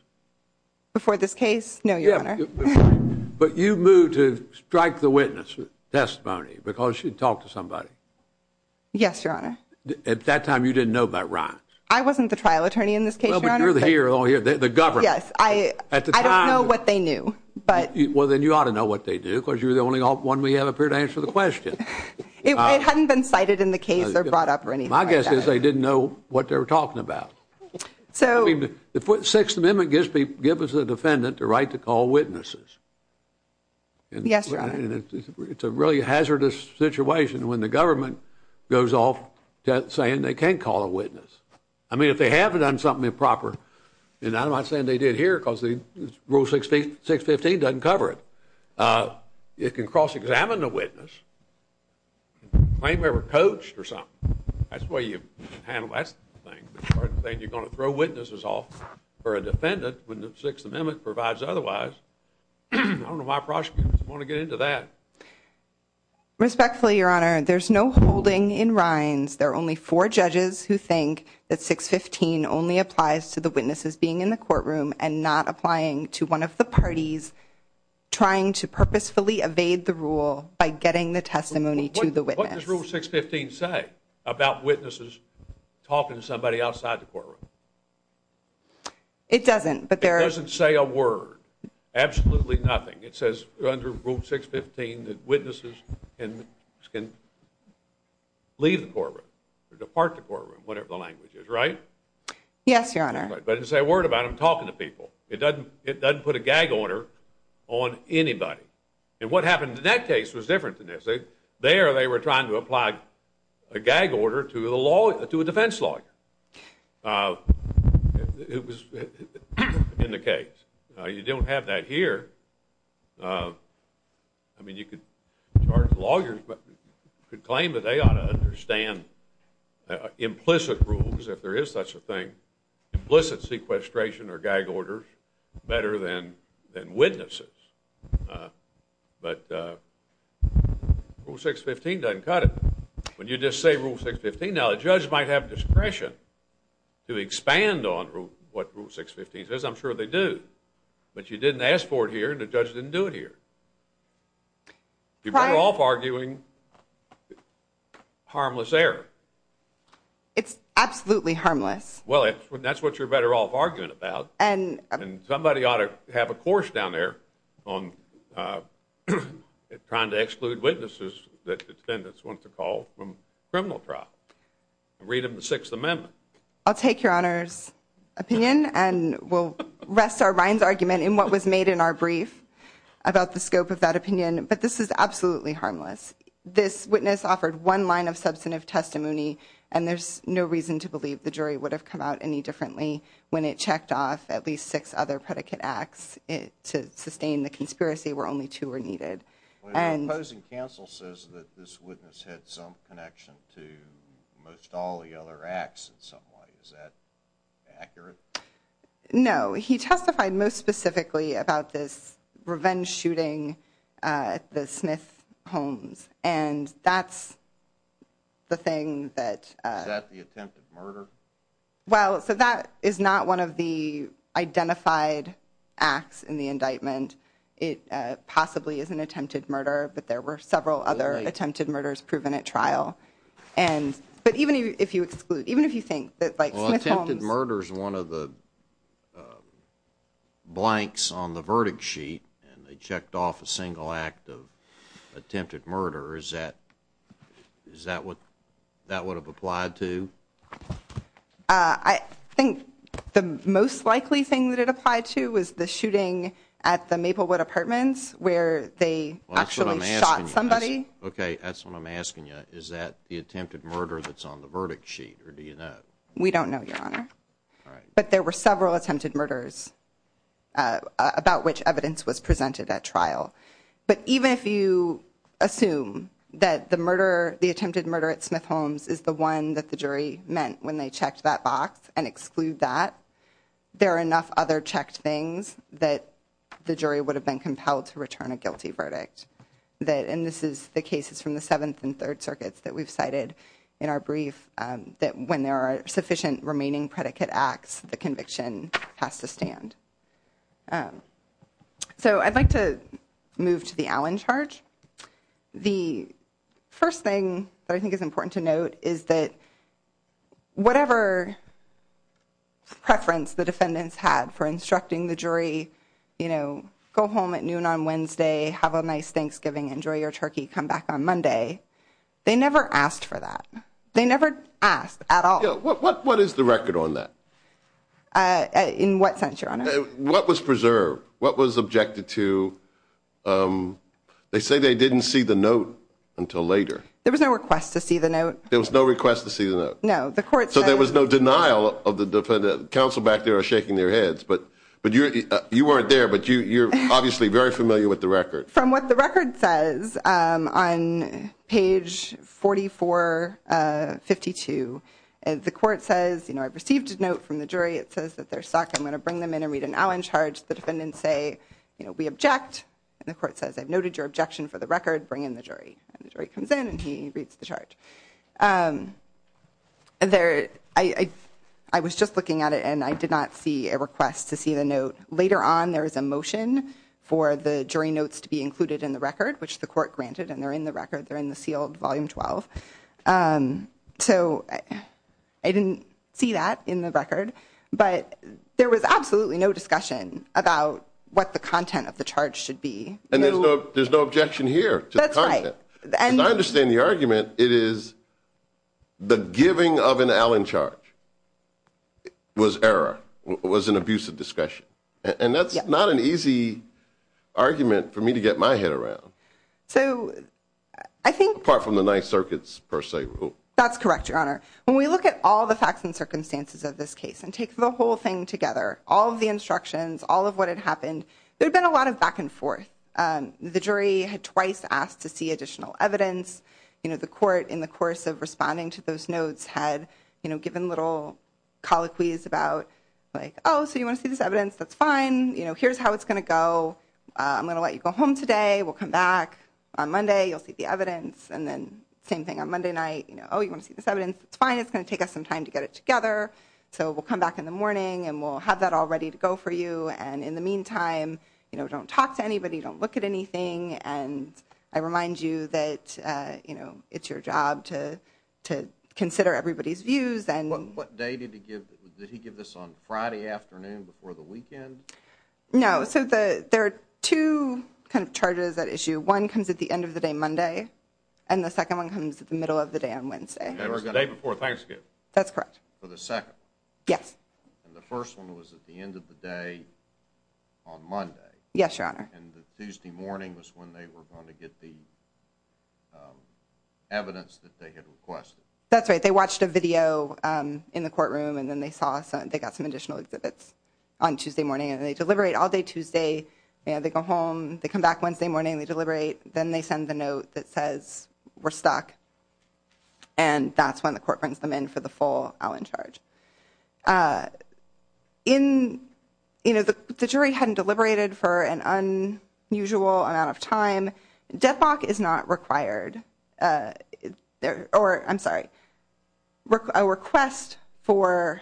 Before this case? No, Your Honor. But you moved to strike the witness testimony because she talked to somebody. Yes, Your Honor. At that time, you didn't know about Rines. I wasn't the trial attorney in this case, Your Honor. Well, but you're here, the government. Yes, I don't know what they knew, but. Well, then you ought to know what they do because you're the only one we have up here to answer the question. It hadn't been cited in the case or brought up or anything like that. My guess is they didn't know what they were talking about. So. I mean, the Sixth Amendment gives the defendant the right to call witnesses. Yes, Your Honor. And it's a really hazardous situation when the government goes off saying they can't call a witness. I mean, if they have done something improper, and I'm not saying they did here because the Rule 615 doesn't cover it. It can cross-examine the witness. Claim they were coached or something. That's the way you handle that sort of thing. You're going to throw witnesses off for a defendant when the Sixth Amendment provides otherwise. I don't know why prosecutors want to get into that. Respectfully, Your Honor, there's no holding in Rines. There are only four judges who think that 615 only applies to the witnesses being in the courtroom and not applying to one of the parties trying to purposefully evade the rule by getting the testimony to the witness. What does Rule 615 say about witnesses talking to somebody outside the courtroom? It doesn't. It doesn't say a word. Absolutely nothing. It says under Rule 615 that witnesses can leave the courtroom or depart the courtroom, whatever the language is, right? Yes, Your Honor. But it doesn't say a word about them talking to people. It doesn't put a gag order on anybody. And what happened in that case was different than this. There they were trying to apply a gag order to a defense lawyer. It was in the case. You don't have that here. I mean, you could charge lawyers, but you could claim that they ought to understand implicit rules, if there is such a thing, implicit sequestration or gag orders better than witnesses. But Rule 615 doesn't cut it. When you just say Rule 615, now the judge might have discretion to expand on what Rule 615 says. I'm sure they do. But you didn't ask for it here, and the judge didn't do it here. You're better off arguing harmless error. It's absolutely harmless. Well, that's what you're better off arguing about. And somebody ought to have a course down there on trying to exclude witnesses that defendants want to call from criminal trial and read them the Sixth Amendment. I'll take your Honor's opinion, and we'll rest our Ryan's argument in what was made in our brief about the scope of that opinion. But this is absolutely harmless. This witness offered one line of substantive testimony, and there's no reason to believe the jury would have come out any differently when it checked off at least six other predicate acts to sustain the conspiracy where only two were needed. Well, the opposing counsel says that this witness had some connection to most all the acts in some way. Is that accurate? No. He testified most specifically about this revenge shooting at the Smith Homes. And that's the thing that- Is that the attempted murder? Well, so that is not one of the identified acts in the indictment. It possibly is an attempted murder, but there were several other attempted murders proven at trial. And, but even if you exclude, even if you think that like- Well, attempted murder is one of the blanks on the verdict sheet, and they checked off a single act of attempted murder. Is that, is that what that would have applied to? I think the most likely thing that it applied to was the shooting at the Maplewood Apartments where they actually shot somebody. Okay, that's what I'm asking you. Is that the attempted murder that's on the verdict sheet, or do you know? We don't know, Your Honor. But there were several attempted murders about which evidence was presented at trial. But even if you assume that the murder, the attempted murder at Smith Homes is the one that the jury meant when they checked that box and exclude that, there are enough other checked things that the jury would have been compelled to return a guilty verdict. That, and this is the cases from the Seventh and Third Circuits that we've cited in our brief, that when there are sufficient remaining predicate acts, the conviction has to stand. So I'd like to move to the Allen charge. The first thing that I think is important to note is that whatever preference the defendants had for instructing the jury, you know, go home at noon on Wednesday, have a nice Thanksgiving, enjoy your turkey, come back on Monday. They never asked for that. They never asked at all. What is the record on that? In what sense, Your Honor? What was preserved? What was objected to? They say they didn't see the note until later. There was no request to see the note. There was no request to see the note. No, the court said. There was no denial of the defendant. Counsel back there are shaking their heads, but you weren't there, but you're obviously very familiar with the record. From what the record says on page 4452, the court says, you know, I've received a note from the jury. It says that they're stuck. I'm going to bring them in and read an Allen charge. The defendants say, you know, we object. And the court says, I've noted your objection for the record. Bring in the jury. And the jury comes in and he reads the charge. And there, I was just looking at it and I did not see a request to see the note. Later on, there is a motion for the jury notes to be included in the record, which the court granted. And they're in the record. They're in the sealed volume 12. So I didn't see that in the record. But there was absolutely no discussion about what the content of the charge should be. And there's no objection here to the content. And I understand the argument. It is the giving of an Allen charge was error, was an abusive discussion. And that's not an easy argument for me to get my head around. So I think apart from the Ninth Circuit's per se rule. That's correct, Your Honor. When we look at all the facts and circumstances of this case and take the whole thing together, all of the instructions, all of what had happened, there'd been a lot of back and forth. The jury had twice asked to see additional evidence. You know, the court, in the course of responding to those notes, had given little colloquies about like, oh, so you want to see this evidence? That's fine. You know, here's how it's going to go. I'm going to let you go home today. We'll come back on Monday. You'll see the evidence. And then same thing on Monday night. You know, oh, you want to see this evidence? It's fine. It's going to take us some time to get it together. So we'll come back in the morning and we'll have that all ready to go for you. And in the meantime, you know, don't talk to anybody. Don't look at anything. And I remind you that, you know, it's your job to consider everybody's views. And what day did he give? Did he give this on Friday afternoon before the weekend? No. So there are two kind of charges at issue. One comes at the end of the day Monday. And the second one comes at the middle of the day on Wednesday. The day before Thanksgiving. That's correct. For the second. Yes. And the first one was at the end of the day on Monday. Yes, Your Honor. And the Tuesday morning was when they were going to get the evidence that they had requested. That's right. They watched a video in the courtroom. And then they saw they got some additional exhibits on Tuesday morning. And they deliberate all day Tuesday. And they go home. They come back Wednesday morning. They deliberate. Then they send the note that says we're stuck. And that's when the court brings them in for the full Allen charge. In, you know, the jury hadn't deliberated for an unusual amount of time. Deadlock is not required. Or, I'm sorry, a request for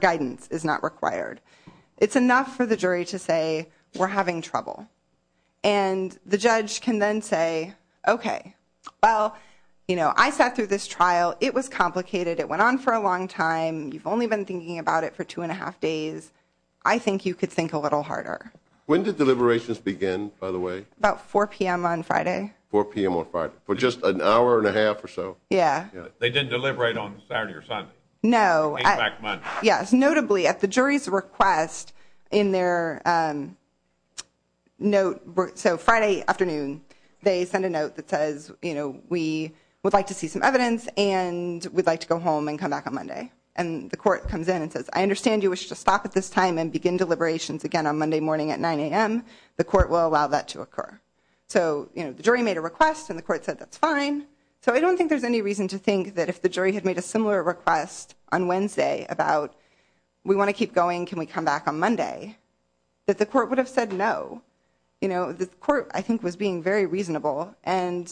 guidance is not required. It's enough for the jury to say we're having trouble. And the judge can then say, okay, well, you know, I sat through this trial. It was complicated. It went on for a long time. You've only been thinking about it for two and a half days. I think you could think a little harder. When did deliberations begin, by the way? About 4 p.m. on Friday. 4 p.m. on Friday. For just an hour and a half or so. Yeah. They didn't deliberate on Saturday or Sunday. No. Yes, notably at the jury's request in their note. So Friday afternoon, they send a note that says, you know, we would like to see some evidence. And we'd like to go home and come back on Monday. And the court comes in and says, I understand you wish to stop at this time and begin deliberations again on Monday morning at 9 a.m. The court will allow that to occur. So, you know, the jury made a request and the court said that's fine. So I don't think there's any reason to think that if the jury had made a similar request on Wednesday about we want to keep going, can we come back on Monday, that the court would have said no. You know, the court, I think, was being very reasonable. And,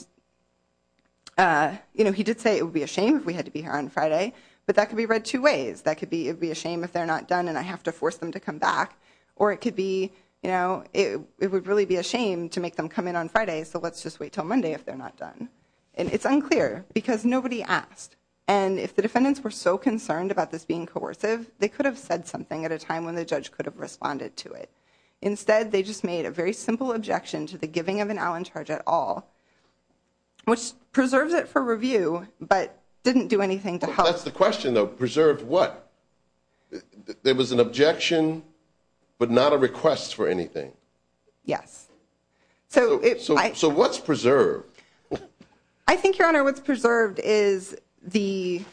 you know, he did say it would be a shame if we had to be here on Friday. But that could be read two ways. That could be it'd be a shame if they're not done and I have to force them to come back. Or it could be, you know, it would really be a shame to make them come in on Friday. So let's just wait till Monday if they're not done. And it's unclear because nobody asked. And if the defendants were so concerned about this being coercive, they could have said something at a time when the judge could have responded to it. Instead, they just made a very simple objection to the giving of an Allen charge at all, which preserves it for review, but didn't do anything to help. That's the question, though. Preserved what? There was an objection, but not a request for anything. Yes. So what's preserved? I think, Your Honor, what's preserved is the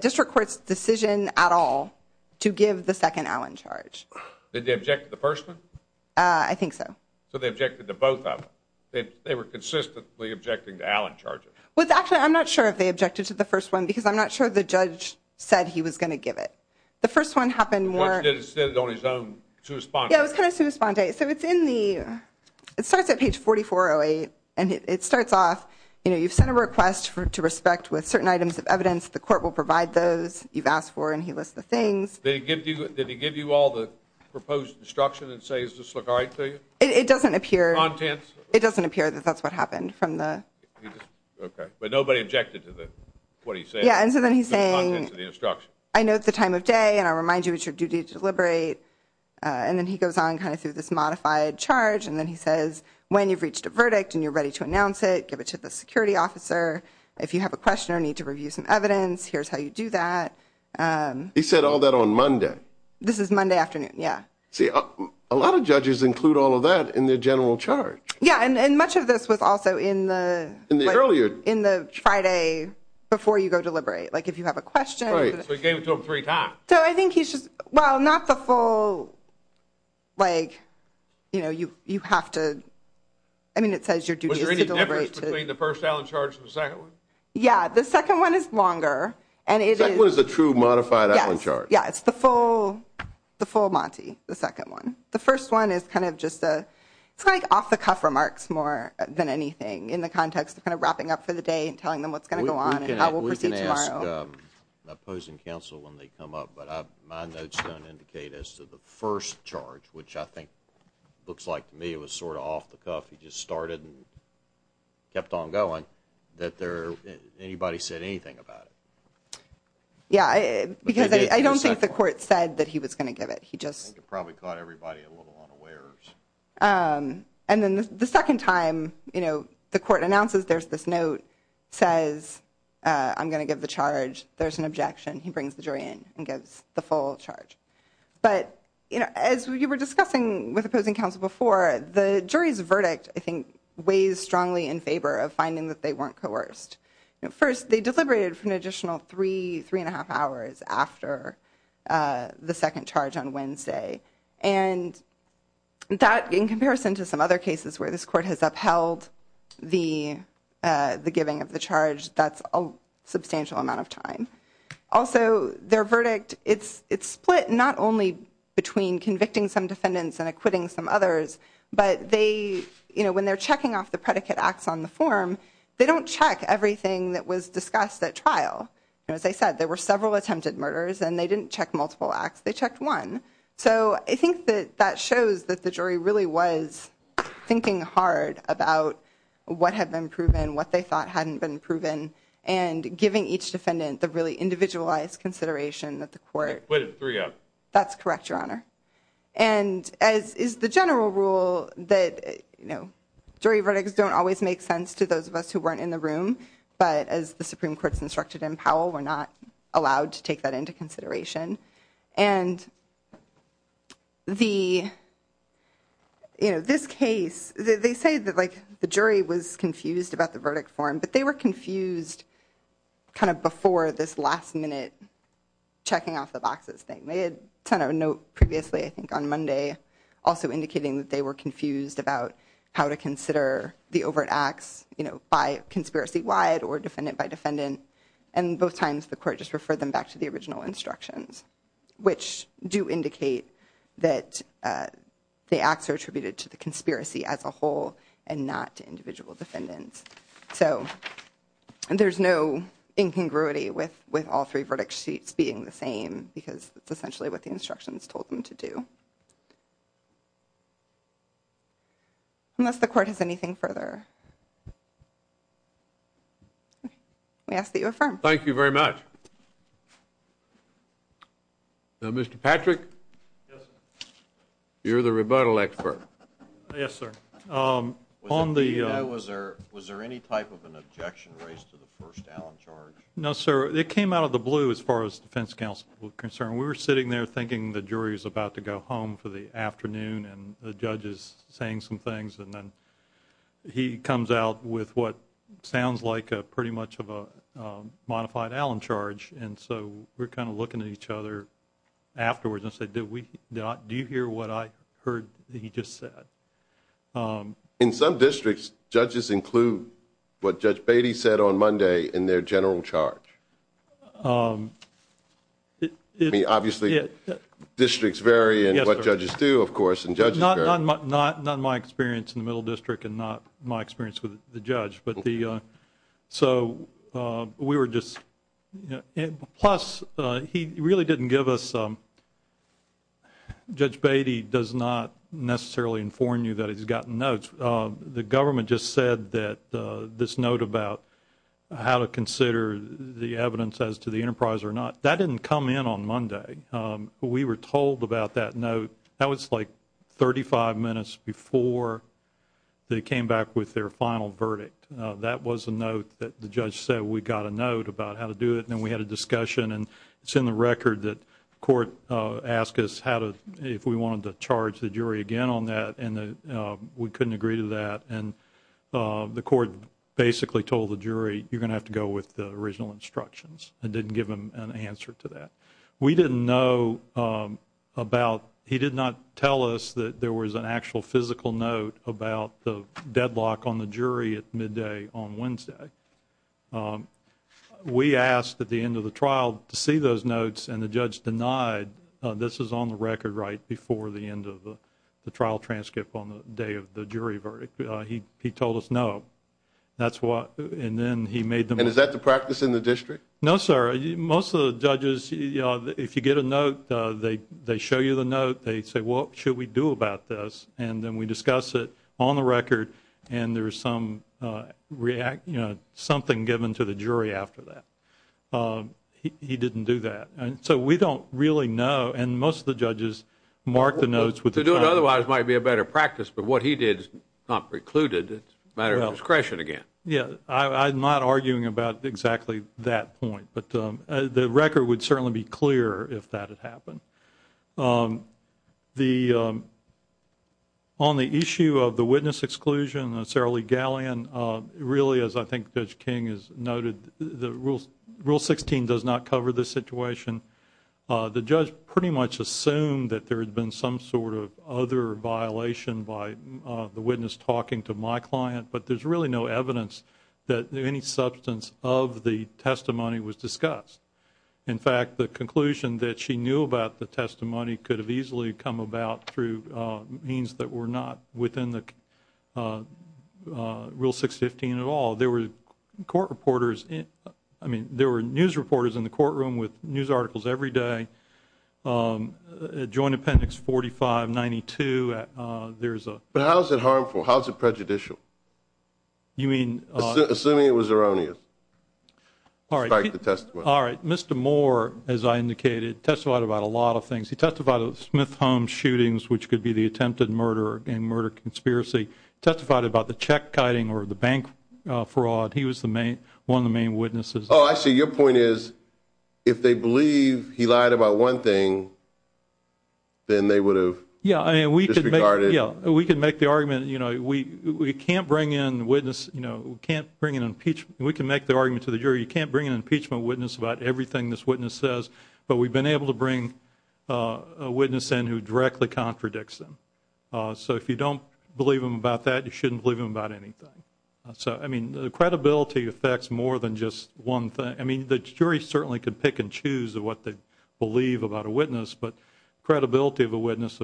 district court's decision at all to give the second Allen charge. Did they object to the first one? I think so. So they objected to both of them. They were consistently objecting to Allen charges. Well, actually, I'm not sure if they objected to the first one, because I'm not sure the judge said he was going to give it. The first one happened more. He said it on his own, to respond. Yeah, it was kind of a response. So it's in the, it starts at page 4408, and it starts off, you know, you've sent a request to respect with certain items of evidence. The court will provide those you've asked for. And he lists the things. Did he give you all the proposed instruction and say, does this look all right to you? It doesn't appear. Contents? It doesn't appear that that's what happened from the. Okay, but nobody objected to what he said? Yeah, and so then he's saying, I know it's the time of day, and I'll remind you it's your duty to deliberate. And then he goes on kind of through this modified charge. And then he says, when you've reached a verdict and you're ready to announce it, give it to the security officer. If you have a question or need to review some evidence, here's how you do that. He said all that on Monday. This is Monday afternoon. Yeah. See, a lot of judges include all of that in their general charge. Yeah, and much of this was also in the. In the earlier. In the Friday before you go deliberate. Like, if you have a question. Right, so he gave it to him three times. So I think he's just, well, not the full. Like, you know, you have to. I mean, it says your duty is to deliberate. Was there any difference between the first Allen charge and the second one? Yeah, the second one is longer. And it was a true modified Allen charge. Yeah, it's the full, the full Monty. The second one. The first one is kind of just a. It's like off the cuff remarks more than anything in the context of kind of wrapping up for the day and telling them what's going to go on and how we'll proceed tomorrow. We can ask the opposing counsel when they come up, but my notes don't indicate as to the first charge, which I think looks like to me it was sort of off the cuff. He just started and kept on going that there. Anybody said anything about it? Yeah, because I don't think the court said that he was going to give it. He just probably got everybody a little unawares. And then the second time, you know, the court announces there's this note says, I'm going to give the charge. There's an objection. He brings the jury in and gives the full charge. But, you know, as you were discussing with opposing counsel before the jury's verdict, I think, weighs strongly in favor of finding that they weren't coerced. First, they deliberated for an additional three, three and a half hours after the second charge on Wednesday. And that, in comparison to some other cases where this court has upheld the giving of the charge, that's a substantial amount of time. Also, their verdict, it's split not only between convicting some defendants and acquitting some others, but they, you know, when they're checking off the predicate acts on the form, they don't check everything that was discussed at trial. And as I said, there were several attempted murders and they didn't check multiple acts. They checked one. So I think that that shows that the jury really was thinking hard about what had been proven, what they thought hadn't been proven, and giving each defendant the really individualized consideration that the court. That's correct, Your Honor. And as is the general rule that, you know, jury verdicts don't always make sense to those of us who weren't in the room, but as the Supreme Court's instructed in Powell, we're not allowed to take that into consideration. And the, you know, this case, they say that, like, the jury was confused about the verdict form, but they were confused kind of before this last minute checking off the boxes thing. They had sent out a note previously, I think on Monday, also indicating that they were by conspiracy-wide or defendant by defendant. And both times the court just referred them back to the original instructions, which do indicate that the acts are attributed to the conspiracy as a whole and not to individual defendants. So there's no incongruity with all three verdict sheets being the same, because it's essentially what the instructions told them to do. Unless the court has anything further? Okay. We ask that you affirm. Thank you very much. Now, Mr. Patrick? Yes, sir. You're the rebuttal expert. Yes, sir. On the— Was there any type of an objection raised to the first Allen charge? No, sir. It came out of the blue as far as defense counsel was concerned. We were sitting there thinking the jury was about to go home for the afternoon, and the judge is saying some things. And then he comes out with what sounds like pretty much of a modified Allen charge. And so we're kind of looking at each other afterwards and said, do you hear what I heard he just said? In some districts, judges include what Judge Beatty said on Monday in their general charge. Obviously, districts vary in what judges do, of course, and judges vary— Not in my experience in the Middle District and not my experience with the judge. Plus, he really didn't give us— Judge Beatty does not necessarily inform you that he's gotten notes. The government just said that this note about how to consider the evidence as to the enterprise or not, that didn't come in on Monday. We were told about that note. That was like 35 minutes before they came back with their final verdict. That was a note that the judge said we got a note about how to do it, and then we had a discussion. And it's in the record that the court asked us if we wanted to charge the jury again on that, and we couldn't agree to that. And the court basically told the jury, you're going to have to go with the original instructions. It didn't give them an answer to that. We didn't know about—he did not tell us that there was an actual physical note about the deadlock on the jury at midday on Wednesday. We asked at the end of the trial to see those notes, and the judge denied—this is on the record right before the end of the trial transcript on the day of the jury verdict. He told us no. And then he made them— And is that the practice in the district? No, sir. Most of the judges, if you get a note, they show you the note. They say, what should we do about this? And then we discuss it on the record, and there's something given to the jury after that. He didn't do that. So we don't really know. And most of the judges mark the notes with— To do it otherwise might be a better practice, but what he did is not precluded. It's a matter of discretion again. Yeah, I'm not arguing about exactly that point. The record would certainly be clear if that had happened. On the issue of the witness exclusion, Sarah Lee Gallion, really, as I think Judge King has noted, Rule 16 does not cover this situation. The judge pretty much assumed that there had been some sort of other violation by the witness talking to my client, but there's really no evidence that any substance of the testimony was discussed. In fact, the conclusion that she knew about the testimony could have easily come about through means that were not within the Rule 615 at all. There were court reporters—I mean, there were news reporters in the courtroom with news articles every day. Joint Appendix 4592, there's a— But how is it harmful? How is it prejudicial? You mean— Assuming it was erroneous. Despite the testimony. All right. Mr. Moore, as I indicated, testified about a lot of things. He testified about the Smith Holmes shootings, which could be the attempted murder and murder conspiracy. Testified about the check kiting or the bank fraud. He was one of the main witnesses. Oh, I see. Your point is, if they believe he lied about one thing, then they would have disregarded— Yeah, I mean, we could make the argument, you know, we can't bring in a witness, you know, we can't bring in an impeachment. We can make the argument to the jury, you can't bring an impeachment witness about everything this witness says, but we've been able to bring a witness in who directly contradicts them. So if you don't believe him about that, you shouldn't believe him about anything. So, I mean, the credibility affects more than just one thing. I mean, the jury certainly could pick and choose what they believe about a witness, but credibility of a witness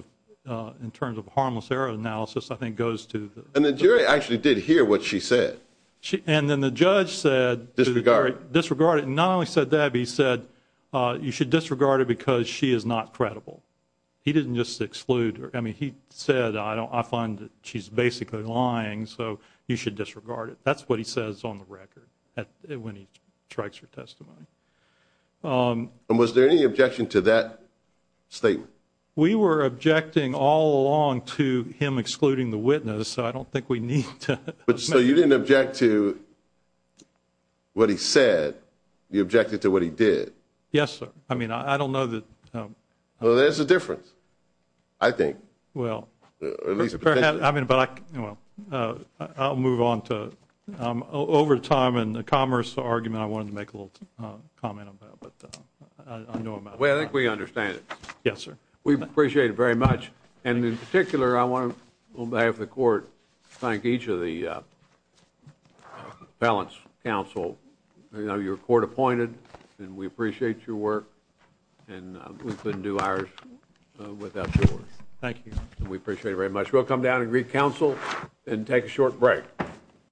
in terms of harmless error analysis, I think, goes to— And the jury actually did hear what she said. And then the judge said— Disregard. Disregard it. Not only said that, but he said, you should disregard it because she is not credible. He didn't just exclude her. I mean, he said, I find that she's basically lying, so you should disregard it. That's what he says on the record when he strikes her testimony. And was there any objection to that statement? We were objecting all along to him excluding the witness, so I don't think we need to— So you didn't object to what he said. You objected to what he did. Yes, sir. I mean, I don't know that— Well, there's a difference, I think. Well, I mean, but I'll move on to— Over time and the commerce argument, I wanted to make a little comment on that, but I know— Well, I think we understand it. Yes, sir. We appreciate it very much. And in particular, I want to, on behalf of the court, thank each of the appellants, counsel, your court appointed, and we appreciate your work. And we couldn't do ours without your work. Thank you. We appreciate it very much. We'll come down and greet counsel and take a short break.